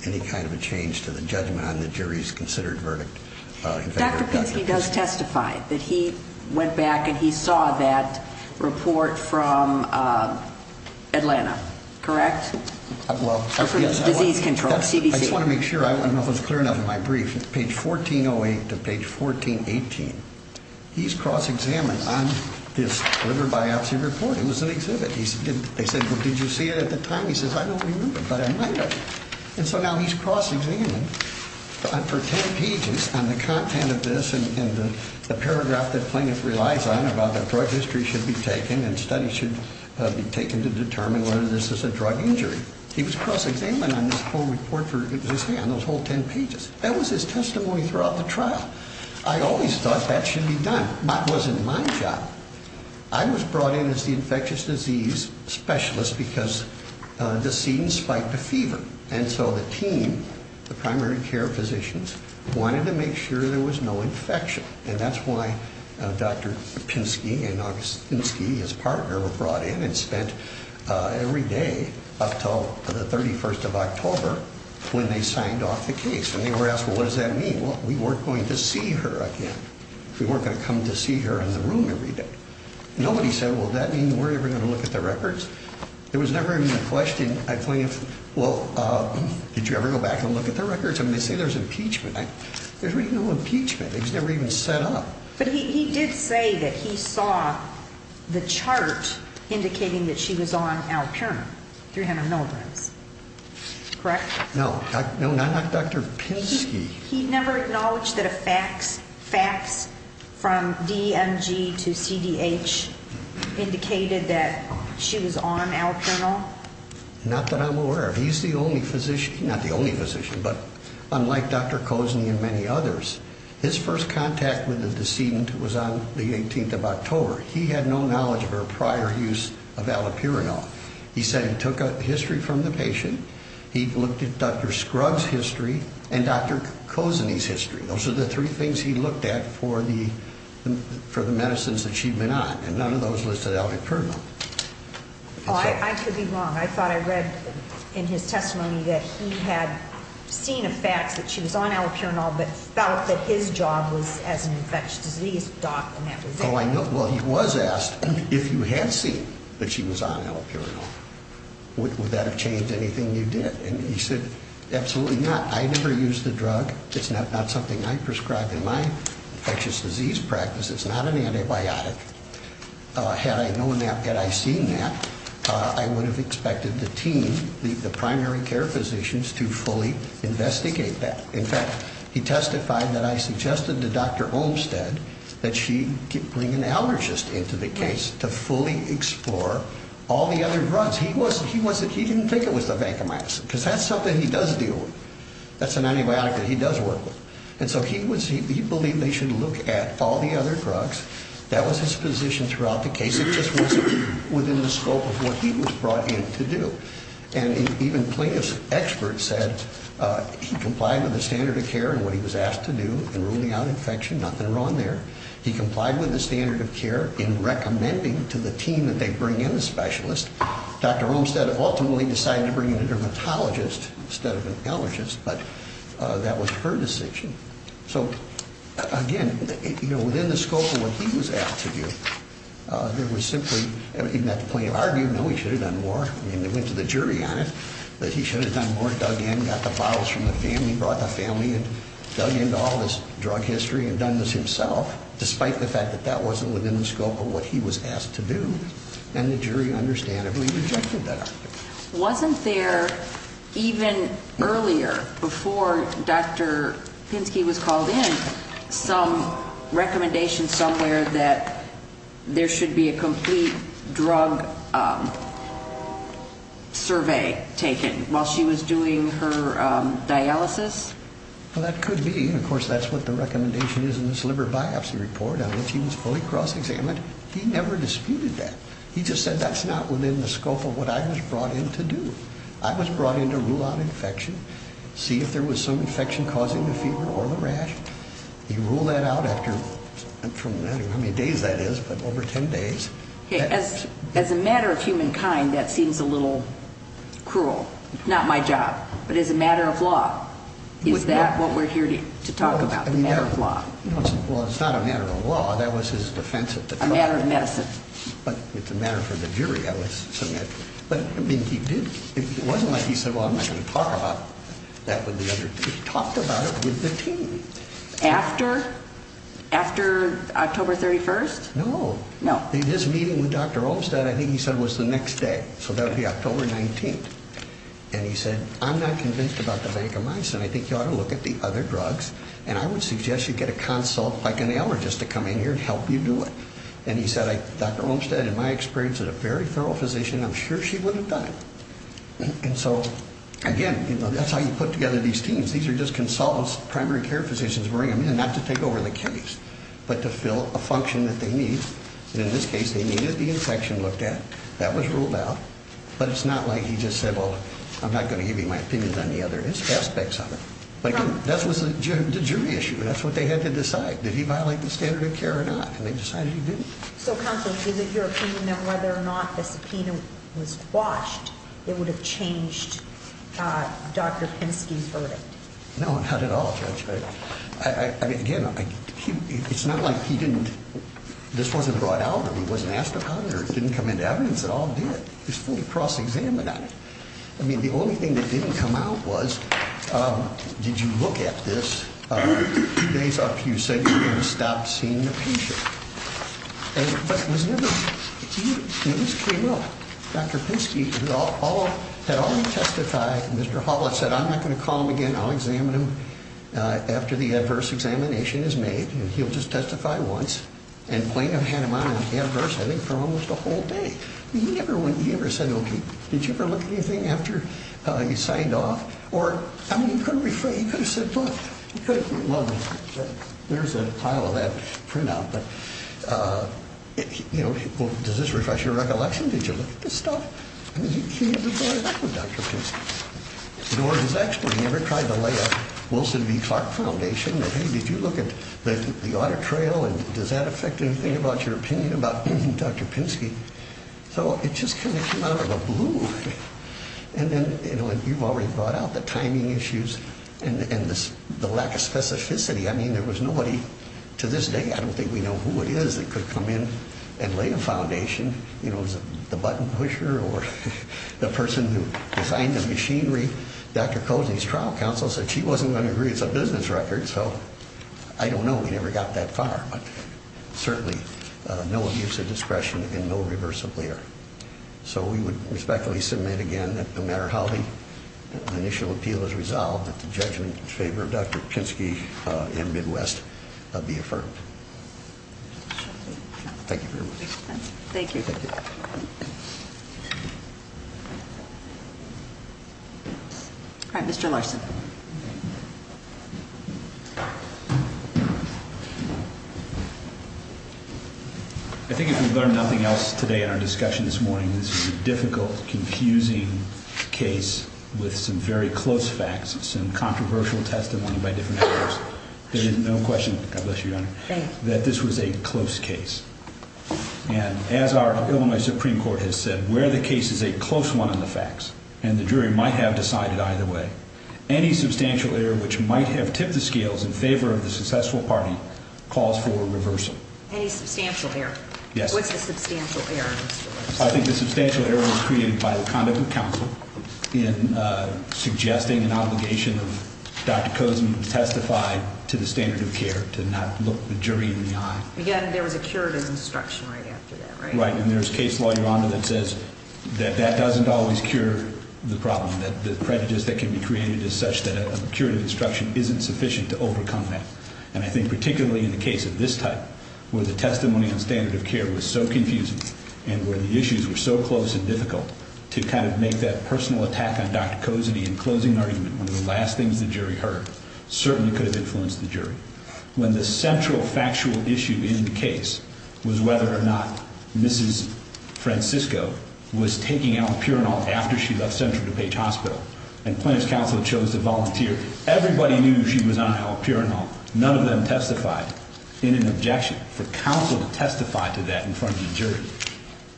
any kind of a change to the judgment on the jury's considered verdict. Dr. Pinsky does testify that he went back and he saw that report from Atlanta, correct? Well- Disease Control, CDC. I just want to make sure. I don't know if it was clear enough in my brief. Page 1408 to page 1418, he's cross-examined on this liver biopsy report. It was an exhibit. They said, well, did you see it at the time? He says, I don't remember, but I might have. And so now he's cross-examined for 10 pages on the content of this and the paragraph that Plaintiff relies on about that drug history should be taken and studies should be taken to determine whether this is a drug injury. He was cross-examined on this whole report for his hand, those whole 10 pages. That was his testimony throughout the trial. I always thought that should be done. That wasn't my job. I was brought in as the infectious disease specialist because Deceden spiked a fever. And so the team, the primary care physicians, wanted to make sure there was no infection. And that's why Dr. Pinsky and August Pinsky, his partner, were brought in and spent every day up until the 31st of October when they signed off the case. And they were asked, well, what does that mean? Well, we weren't going to see her again. We weren't going to come to see her in the room every day. Nobody said, well, does that mean we're ever going to look at the records? There was never even a question at Plaintiff, well, did you ever go back and look at the records? I mean, they say there's impeachment. There's really no impeachment. It was never even set up. But he did say that he saw the chart indicating that she was on Alpiron, 300 milligrams. Correct? No, not Dr. Pinsky. He never acknowledged that a fax from DMG to CDH indicated that she was on Alpironol? Not that I'm aware of. He's the only physician, not the only physician, but unlike Dr. Kozeny and many others, his first contact with the decedent was on the 18th of October. He had no knowledge of her prior use of Alipironol. He said he took a history from the patient. He looked at Dr. Scruggs' history and Dr. Kozeny's history. Those are the three things he looked at for the medicines that she'd been on, and none of those listed Alipironol. I could be wrong. I thought I read in his testimony that he had seen a fax that she was on Alipironol but felt that his job was as an infectious disease doc and that was it. Well, he was asked if you had seen that she was on Alipironol, would that have changed anything you did? And he said, absolutely not. I never used the drug. It's not something I prescribe in my infectious disease practice. It's not an antibiotic. Had I known that, had I seen that, I would have expected the team, the primary care physicians, to fully investigate that. In fact, he testified that I suggested to Dr. Olmstead that she bring an allergist into the case to fully explore all the other drugs. He didn't think it was the vancomycin because that's something he does deal with. That's an antibiotic that he does work with. And so he believed they should look at all the other drugs. That was his position throughout the case. It just wasn't within the scope of what he was brought in to do. And even plaintiff's experts said he complied with the standard of care and what he was asked to do in ruling out infection. Nothing wrong there. He complied with the standard of care in recommending to the team that they bring in a specialist. Dr. Olmstead ultimately decided to bring in a dermatologist instead of an allergist, but that was her decision. So, again, within the scope of what he was asked to do, there was simply, even at the point of argument, no, he should have done more. I mean, they went to the jury on it, but he should have done more, dug in, got the bottles from the family, brought the family and dug into all this drug history and done this himself, despite the fact that that wasn't within the scope of what he was asked to do. And the jury understandably rejected that argument. Wasn't there, even earlier, before Dr. Pinsky was called in, some recommendation somewhere that there should be a complete drug survey taken while she was doing her dialysis? Well, that could be. Of course, that's what the recommendation is in this liver biopsy report. He was fully cross-examined. He never disputed that. He just said that's not within the scope of what I was brought in to do. I was brought in to rule out infection, see if there was some infection causing the fever or the rash. He ruled that out after, I don't know how many days that is, but over ten days. As a matter of humankind, that seems a little cruel. It's not my job. But as a matter of law, is that what we're here to talk about, the matter of law? Well, it's not a matter of law. That was his defense at the time. A matter of medicine. It's a matter for the jury, I would submit. But it wasn't like he said, well, I'm not going to talk about that with the other team. He talked about it with the team. After October 31st? No. His meeting with Dr. Olmstead, I think he said, was the next day. So that would be October 19th. And he said, I'm not convinced about the vancomycin. I think you ought to look at the other drugs. And I would suggest you get a consult, like an allergist, to come in here and help you do it. And he said, Dr. Olmstead, in my experience, is a very thorough physician. I'm sure she would have done it. And so, again, that's how you put together these teams. These are just consultants, primary care physicians, bring them in, not to take over the case, but to fill a function that they need. And in this case, they needed the infection looked at. That was ruled out. But it's not like he just said, well, I'm not going to give you my opinions on the other aspects of it. But, again, that was the jury issue. That's what they had to decide. Did he violate the standard of care or not? And they decided he didn't. So, counsel, is it your opinion that whether or not the subpoena was quashed, it would have changed Dr. Penske's verdict? No, not at all, Judge. I mean, again, it's not like he didn't – this wasn't brought out of him. He wasn't asked about it or it didn't come into evidence. It all did. He was fully cross-examined on it. I mean, the only thing that didn't come out was, did you look at this? Two days up, you said you didn't stop seeing the patient. But it was never – it just came up. Dr. Penske had already testified. Mr. Hawlett said, I'm not going to call him again. I'll examine him after the adverse examination is made, and he'll just testify once. And Blaine had him on an adverse, I think, for almost a whole day. He never said, okay, did you ever look at anything after he signed off? Or, I mean, he could have said, look, he could have – well, there's a pile of that printout. But, you know, does this refresh your recollection? Did you look at this stuff? I mean, he reported back to Dr. Penske. In other words, he's actually – he never tried to lay a Wilson v. Clark foundation that, hey, did you look at the audit trail, and does that affect anything about your opinion about Dr. Penske? So it just kind of came out of the blue. And then, you know, you've already brought out the timing issues and the lack of specificity. I mean, there was nobody to this day – I don't think we know who it is – that could come in and lay a foundation. You know, was it the button pusher or the person who designed the machinery? Dr. Cozzi's trial counsel said she wasn't going to agree. It's a business record, so I don't know. We never got that far. But certainly no abuse of discretion and no reverse of lear. So we would respectfully submit again that no matter how the initial appeal is resolved, that the judgment in favor of Dr. Penske and Midwest be affirmed. Thank you for your work. Thank you. All right, Mr. Larson. Thank you. I think if we've learned nothing else today in our discussion this morning, this is a difficult, confusing case with some very close facts, some controversial testimony by different actors. There is no question – God bless you, Your Honor – that this was a close case. And as our Illinois Supreme Court has said, where the case is a close one in the facts, and the jury might have decided either way, any substantial error which might have tipped the scales in favor of the successful party calls for reversal. Any substantial error? Yes. What's the substantial error, Mr. Larson? I think the substantial error was created by the conduct of counsel in suggesting an obligation of Dr. Cozzi to testify to the standard of care, to not look the jury in the eye. Again, there was a curative instruction right after that, right? And there's case law, Your Honor, that says that that doesn't always cure the problem, that the prejudice that can be created is such that a curative instruction isn't sufficient to overcome that. And I think particularly in the case of this type, where the testimony on standard of care was so confusing and where the issues were so close and difficult, to kind of make that personal attack on Dr. Cozzi in closing argument one of the last things the jury heard certainly could have influenced the jury. When the central factual issue in the case was whether or not Mrs. Francisco was taking allopurinol after she left Central DuPage Hospital and plaintiff's counsel chose to volunteer, everybody knew she was on allopurinol. None of them testified in an objection. For counsel to testify to that in front of the jury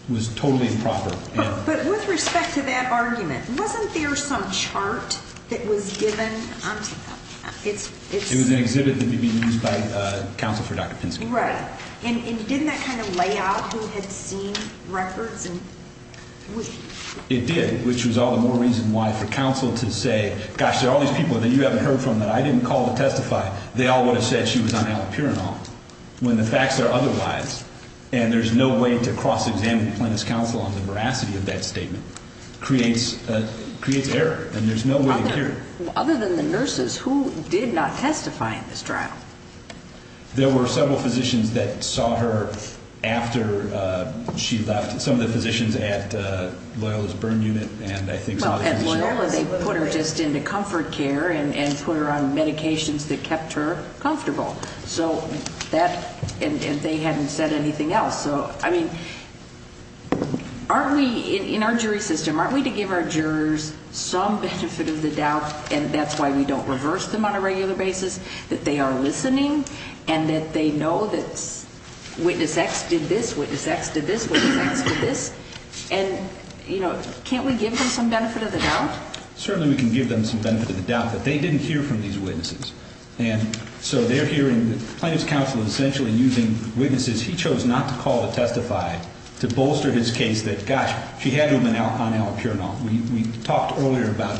was totally improper. But with respect to that argument, wasn't there some chart that was given? It was an exhibit that would be used by counsel for Dr. Penske. Right. And didn't that kind of lay out who had seen records? It did, which was all the more reason why for counsel to say, gosh, there are all these people that you haven't heard from that I didn't call to testify. They all would have said she was on allopurinol. When the facts are otherwise, and there's no way to cross-examine plaintiff's counsel on the veracity of that statement, creates error, and there's no way to cure it. Other than the nurses, who did not testify in this trial? There were several physicians that saw her after she left, some of the physicians at Loyola's burn unit, and I think saw her when she left. Well, at Loyola they put her just into comfort care and put her on medications that kept her comfortable. So that, and they hadn't said anything else. So, I mean, aren't we, in our jury system, aren't we to give our jurors some benefit of the doubt, and that's why we don't reverse them on a regular basis, that they are listening, and that they know that witness X did this, witness X did this, witness X did this. And, you know, can't we give them some benefit of the doubt? Certainly we can give them some benefit of the doubt that they didn't hear from these witnesses. And so they're hearing the plaintiff's counsel essentially using witnesses he chose not to call to testify to bolster his case that, gosh, she had to have been on allopurinol. We talked earlier about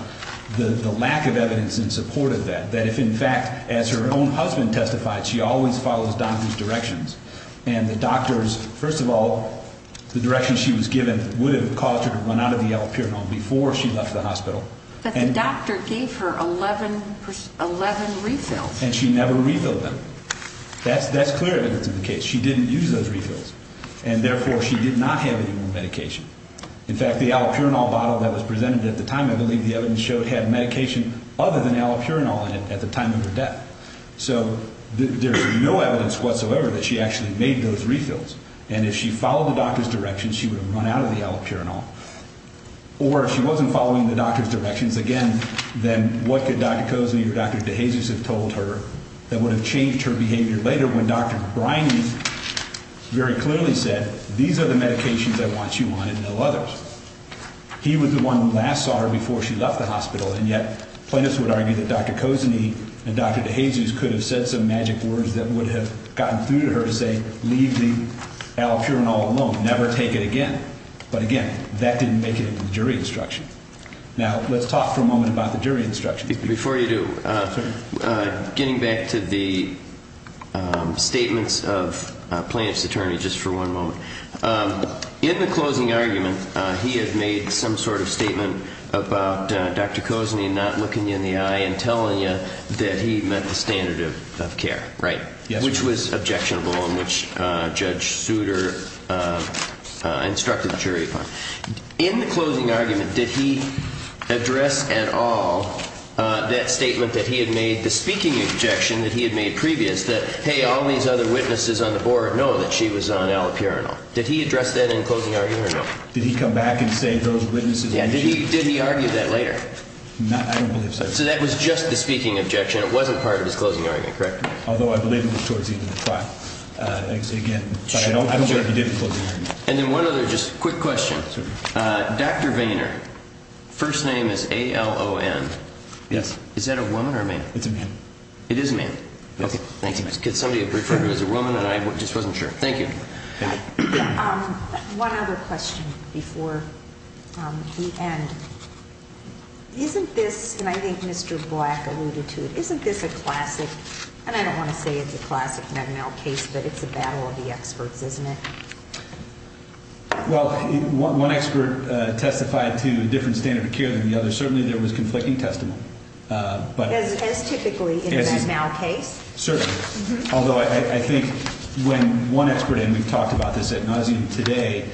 the lack of evidence in support of that, that if, in fact, as her own husband testified, she always follows doctors' directions. And the doctors, first of all, the direction she was given would have caused her to run out of the allopurinol before she left the hospital. But the doctor gave her 11 refills. And she never refilled them. That's clear evidence of the case. She didn't use those refills, and therefore she did not have any more medication. In fact, the allopurinol bottle that was presented at the time, I believe the evidence showed, had medication other than allopurinol in it at the time of her death. So there's no evidence whatsoever that she actually made those refills. And if she followed the doctor's direction, she would have run out of the allopurinol. Or if she wasn't following the doctor's directions, again, then what could Dr. Kozeny or Dr. DeJesus have told her that would have changed her behavior later when Dr. Briney very clearly said, these are the medications I want you on and no others? He was the one who last saw her before she left the hospital, and yet plaintiffs would argue that Dr. Kozeny and Dr. DeJesus could have said some magic words that would have gotten through to her to say, leave the allopurinol alone, never take it again. But again, that didn't make it into the jury instruction. Now, let's talk for a moment about the jury instruction. Before you do, getting back to the statements of a plaintiff's attorney just for one moment. In the closing argument, he had made some sort of statement about Dr. Kozeny not looking you in the eye and telling you that he met the standard of care, right? Yes, sir. That was objectionable in which Judge Souter instructed the jury upon. In the closing argument, did he address at all that statement that he had made, the speaking objection that he had made previous that, hey, all these other witnesses on the board know that she was on allopurinol? Did he address that in the closing argument or no? Did he come back and say those witnesses knew she was on allopurinol? Did he argue that later? I don't believe so. So that was just the speaking objection. It wasn't part of his closing argument, correct? Although I believe it was towards the end of the trial. Again, I don't believe he did the closing argument. And then one other just quick question. Dr. Vayner, first name is A-L-O-N. Yes. Is that a woman or a man? It's a man. It is a man. Okay, thank you. Somebody referred to him as a woman and I just wasn't sure. Thank you. One other question before we end. Isn't this, and I think Mr. Black alluded to it, isn't this a classic? And I don't want to say it's a classic Med-Mal case, but it's a battle of the experts, isn't it? Well, one expert testified to a different standard of care than the other. Certainly there was conflicting testimony. As typically in a Med-Mal case? Certainly. Although I think when one expert, and we've talked about this at nauseam today,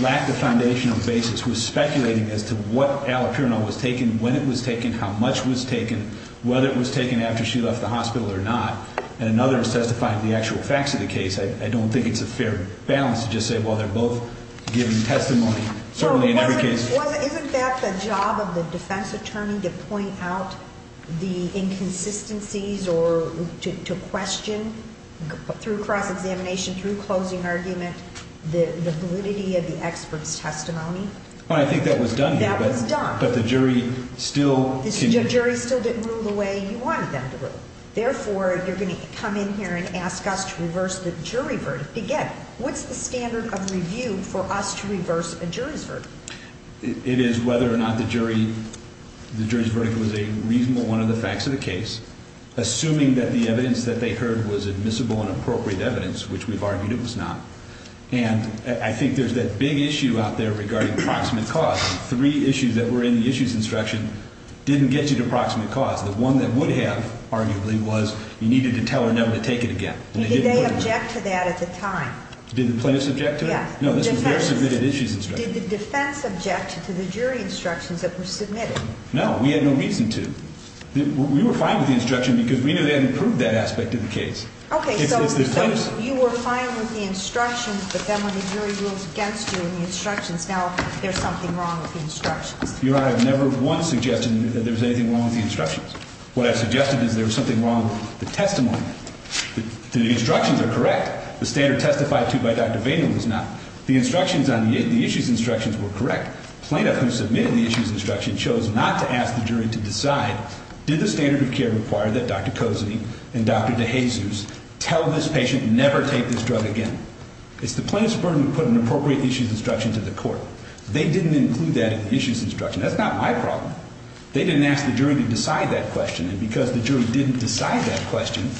lacked a foundational basis, was speculating as to what allopurinol was taken, when it was taken, how much was taken, whether it was taken after she left the hospital or not. And another has testified to the actual facts of the case. I don't think it's a fair balance to just say, well, they're both giving testimony. Certainly in every case. Isn't that the job of the defense attorney to point out the inconsistencies or to question through cross-examination, through closing argument, the validity of the expert's testimony? I think that was done here. That was done. The jury still didn't rule the way you wanted them to rule. Therefore, you're going to come in here and ask us to reverse the jury verdict. Again, what's the standard of review for us to reverse a jury's verdict? It is whether or not the jury's verdict was a reasonable one of the facts of the case, assuming that the evidence that they heard was admissible and appropriate evidence, which we've argued it was not. And I think there's that big issue out there regarding proximate cause. Three issues that were in the issues instruction didn't get you to proximate cause. The one that would have, arguably, was you needed to tell her never to take it again. Did they object to that at the time? Did the plaintiffs object to it? Yes. No, this was their submitted issues instruction. Did the defense object to the jury instructions that were submitted? No, we had no reason to. We were fine with the instruction because we knew they hadn't proved that aspect of the case. Okay, so you were fine with the instructions, but then when the jury rules against you in the instructions, now there's something wrong with the instructions. Your Honor, I've never once suggested that there's anything wrong with the instructions. What I've suggested is there's something wrong with the testimony. The instructions are correct. The standard testified to by Dr. Vayner was not. The instructions on the issues instructions were correct. The plaintiff who submitted the issues instruction chose not to ask the jury to decide, did the standard of care require that Dr. Cozzi and Dr. DeJesus tell this patient never take this drug again? It's the plaintiff's burden to put an appropriate issues instruction to the court. They didn't include that in the issues instruction. That's not my problem. They didn't ask the jury to decide that question, and because the jury didn't decide that question,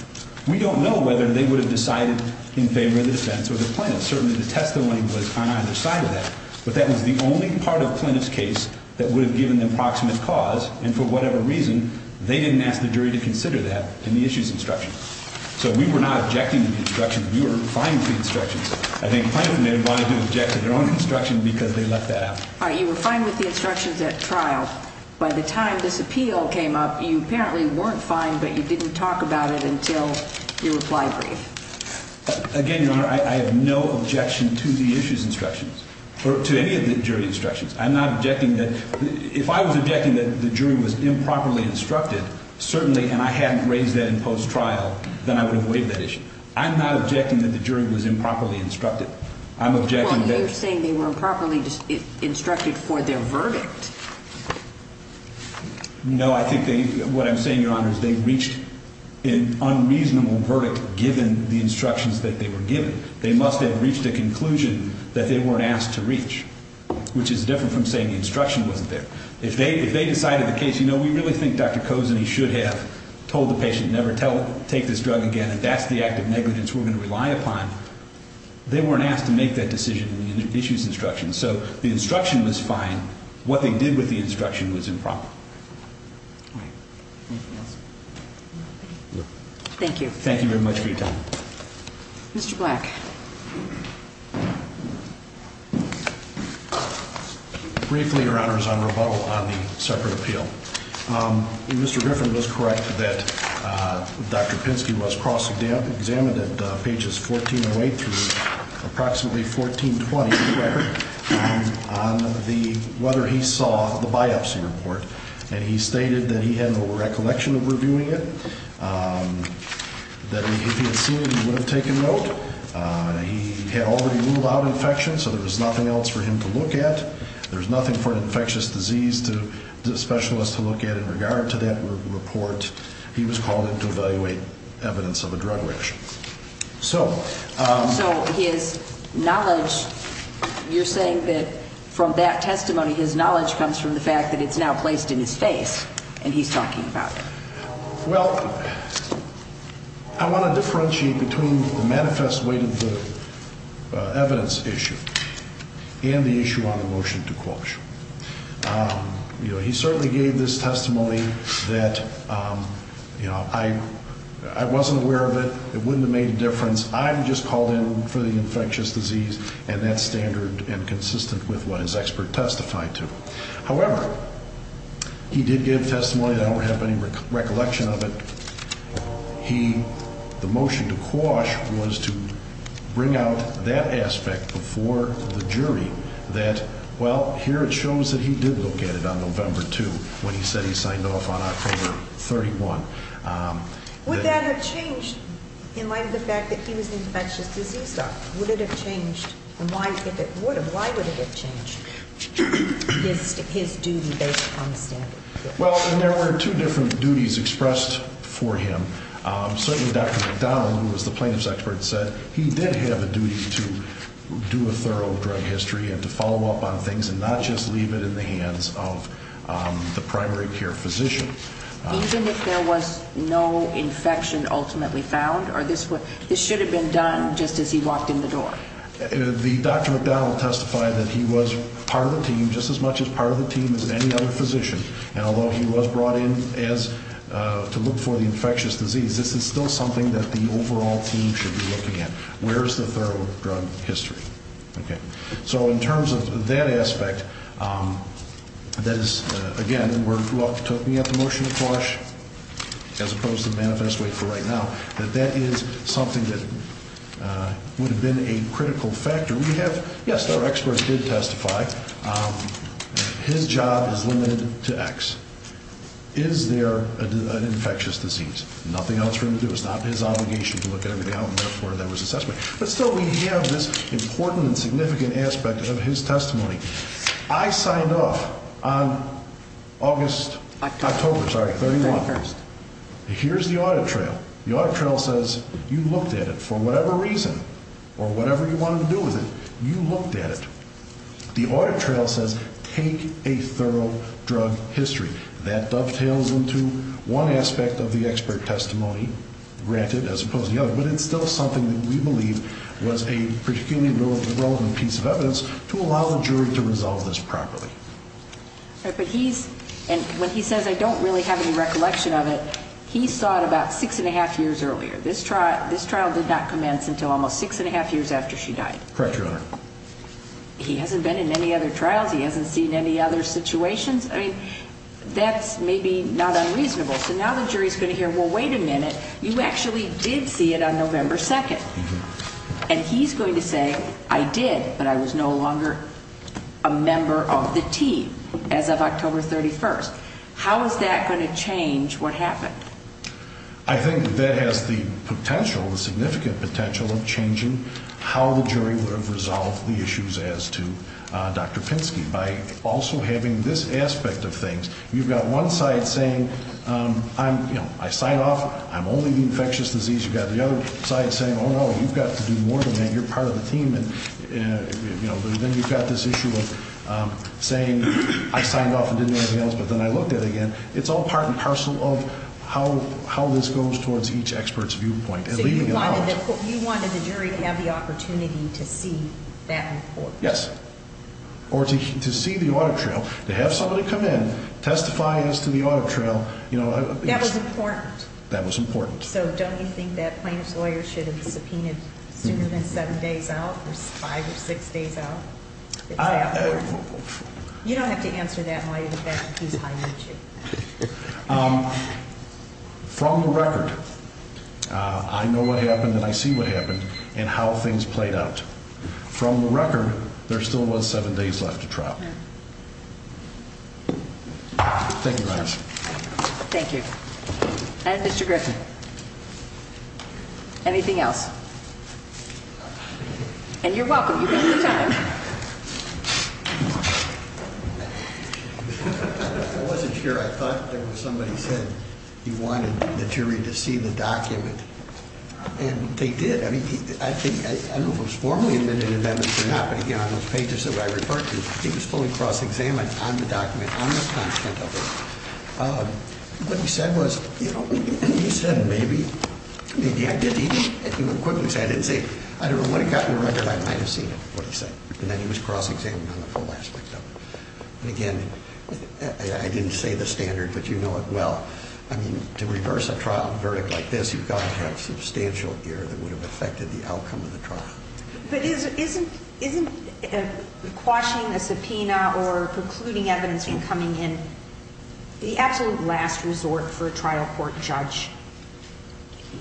we don't know whether they would have decided in favor of the defense or the plaintiff. Certainly, the testimony was on either side of that, but that was the only part of the plaintiff's case that would have given the approximate cause, and for whatever reason, they didn't ask the jury to consider that in the issues instruction. So we were not objecting to the instructions. We were fine with the instructions. I think the plaintiff may have wanted to object to their own instruction because they left that out. All right. You were fine with the instructions at trial. By the time this appeal came up, you apparently weren't fine, but you didn't talk about it until your reply brief. Again, Your Honor, I have no objection to the issues instructions or to any of the jury instructions. I'm not objecting that. If I was objecting that the jury was improperly instructed, certainly, and I hadn't raised that in post-trial, then I would have waived that issue. I'm not objecting that the jury was improperly instructed. I'm objecting that. Well, you're saying they were improperly instructed for their verdict. No, I think what I'm saying, Your Honor, is they reached an unreasonable verdict given the instructions that they were given. They must have reached a conclusion that they weren't asked to reach, which is different from saying the instruction wasn't there. If they decided the case, you know, we really think Dr. Cozeny should have told the patient never take this drug again and that's the act of negligence we're going to rely upon, they weren't asked to make that decision in the issues instructions. So the instruction was fine. What they did with the instruction was improper. All right. Anything else? No. Thank you. Thank you very much for your time. Mr. Black. Briefly, Your Honor, is on rebuttal on the separate appeal. Mr. Griffin was correct that Dr. Pinsky was cross-examined at pages 1408 through approximately 1420 on whether he saw the biopsy report and he stated that he had no recollection of reviewing it, that if he had seen it he would have taken note, he had already ruled out infection so there was nothing else for him to look at, there was nothing for an infectious disease specialist to look at in regard to that report. He was called in to evaluate evidence of a drug reaction. So his knowledge, you're saying that from that testimony, his knowledge comes from the fact that it's now placed in his face and he's talking about it. Well, I want to differentiate between the manifest weight of the evidence issue and the issue on the motion to quote. He certainly gave this testimony that, you know, I wasn't aware of it, it wouldn't have made a difference, I just called in for the infectious disease and that's standard and consistent with what his expert testified to. However, he did give testimony that I don't have any recollection of it. He, the motion to quash was to bring out that aspect before the jury that, well, here it shows that he did look at it on November 2 when he said he signed off on October 31. Would that have changed in light of the fact that he was an infectious disease doctor? Why would it have changed his duty based on the standard? Well, there were two different duties expressed for him. Certainly Dr. McDonald, who was the plaintiff's expert, said he did have a duty to do a thorough drug history and to follow up on things and not just leave it in the hands of the primary care physician. Even if there was no infection ultimately found? Or this should have been done just as he walked in the door? The Dr. McDonald testified that he was part of the team, just as much as part of the team as any other physician. And although he was brought in to look for the infectious disease, this is still something that the overall team should be looking at. Where is the thorough drug history? So in terms of that aspect, that is, again, what took me at the motion to quash, as opposed to the manifest way for right now, that that is something that would have been a critical factor. We have, yes, our experts did testify. His job is limited to X. Is there an infectious disease? Nothing else for him to do. It's not his obligation to look at everything out and therefore there was assessment. But still we have this important and significant aspect of his testimony. I signed off on October 31. Here's the audit trail. The audit trail says you looked at it for whatever reason or whatever you wanted to do with it. You looked at it. The audit trail says take a thorough drug history. That dovetails into one aspect of the expert testimony, granted, as opposed to the other. But it's still something that we believe was a particularly relevant piece of evidence to allow the jury to resolve this properly. But he's, and when he says I don't really have any recollection of it, he saw it about six and a half years earlier. This trial did not commence until almost six and a half years after she died. Correct, Your Honor. He hasn't been in any other trials. He hasn't seen any other situations. I mean, that's maybe not unreasonable. So now the jury's going to hear, well, wait a minute. You actually did see it on November 2. And he's going to say I did, but I was no longer a member of the team as of October 31. How is that going to change what happened? I think that has the potential, the significant potential of changing how the jury would have resolved the issues as to Dr. Pinsky. By also having this aspect of things. You've got one side saying I signed off, I'm only the infectious disease. You've got the other side saying, oh, no, you've got to do more than that, you're part of the team. And then you've got this issue of saying I signed off and didn't do anything else, but then I looked at it again. It's all part and parcel of how this goes towards each expert's viewpoint. So you wanted the jury to have the opportunity to see that report? Yes. Or to see the audit trail, to have somebody come in, testify as to the audit trail. That was important. That was important. So don't you think that plaintiff's lawyer should have been subpoenaed sooner than seven days out or five or six days out? You don't have to answer that in light of the fact that he's high-natured. From the record, I know what happened and I see what happened and how things played out. From the record, there still was seven days left to trial. Thank you, guys. Thank you. And Mr. Griffin? Anything else? And you're welcome. You've got some time. I wasn't sure. I thought there was somebody said he wanted the jury to see the document, and they did. I don't know if it was formally admitted or not, but again, on those pages that I referred to, he was fully cross-examined on the document, on the content of it. What he said was, you know, he said maybe, maybe I did. He quickly said, I didn't say, I don't know, when it got in the record, I might have seen it, what he said. And then he was cross-examined on the full aspect of it. And again, I didn't say the standard, but you know it well. I mean, to reverse a trial verdict like this, you've got to have substantial gear that would have affected the outcome of the trial. But isn't quashing a subpoena or precluding evidence from coming in the absolute last resort for a trial court judge?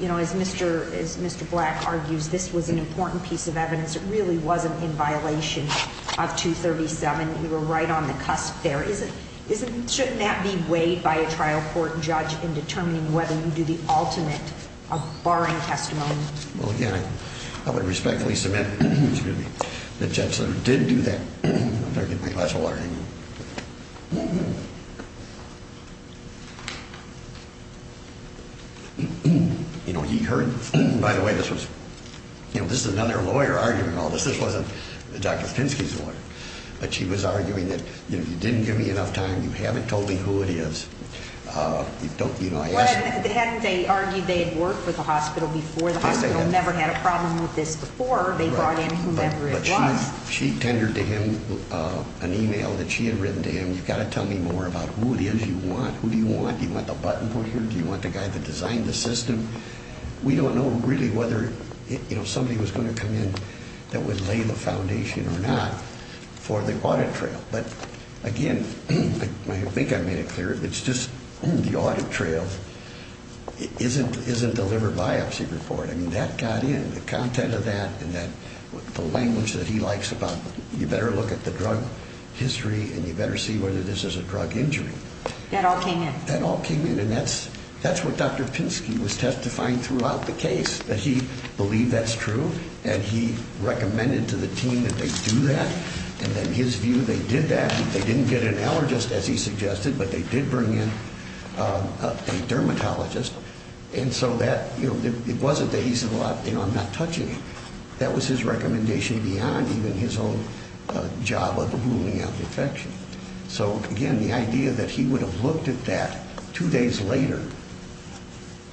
You know, as Mr. Black argues, this was an important piece of evidence. It really wasn't in violation of 237. We were right on the cusp there. But shouldn't that be weighed by a trial court judge in determining whether you do the ultimate, a barring testimony? Well, again, I would respectfully submit that the judge did do that. I'm going to get my glass of water. You know, he heard, by the way, this was, you know, this is another lawyer arguing all this. This wasn't Dr. Pinsky's lawyer. But she was arguing that, you know, you didn't give me enough time. You haven't told me who it is. You know, I asked you. Well, hadn't they argued they had worked with the hospital before? The hospital never had a problem with this before. They barred in whomever it was. But she tendered to him an e-mail that she had written to him. You've got to tell me more about who it is you want. Who do you want? Do you want the button put here? Do you want the guy that designed the system? We don't know really whether, you know, somebody was going to come in that would lay the foundation or not for the audit trail. But, again, I think I made it clear. It's just the audit trail isn't the liver biopsy report. I mean, that got in, the content of that and the language that he likes about you better look at the drug history and you better see whether this is a drug injury. That all came in. And that's what Dr. Pinsky was testifying throughout the case, that he believed that's true and he recommended to the team that they do that. And then his view, they did that. They didn't get an allergist, as he suggested, but they did bring in a dermatologist. And so that, you know, it wasn't that he said, well, you know, I'm not touching it. That was his recommendation beyond even his own job of ruling out infection. So, again, the idea that he would have looked at that two days later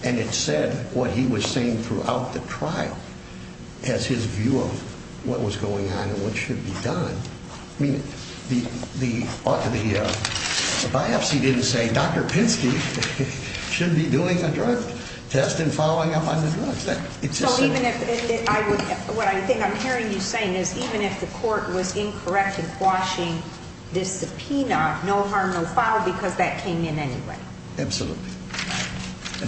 and it said what he was saying throughout the trial as his view of what was going on and what should be done. I mean, the biopsy didn't say Dr. Pinsky should be doing a drug test and following up on the drugs. What I think I'm hearing you saying is even if the court was incorrect in quashing this subpoena, no harm, no foul, because that came in anyway. Absolutely.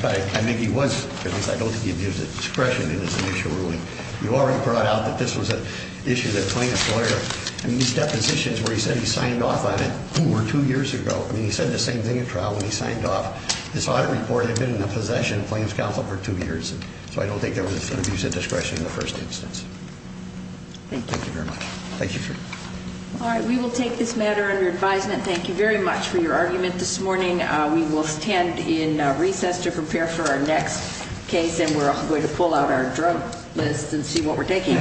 I mean, he was, at least I don't think he gives discretion in his initial ruling. You already brought out that this was an issue that claimed a lawyer. I mean, these depositions where he said he signed off on it two or two years ago, I mean, he said the same thing at trial when he signed off. This audit report had been in the possession of claims counsel for two years, so I don't think there was an abuse of discretion in the first instance. Thank you. Thank you very much. Thank you, sir. All right. We will take this matter under advisement. Thank you very much for your argument this morning. We will stand in recess to prepare for our next case, and we're going to pull out our drug list and see what we're taking.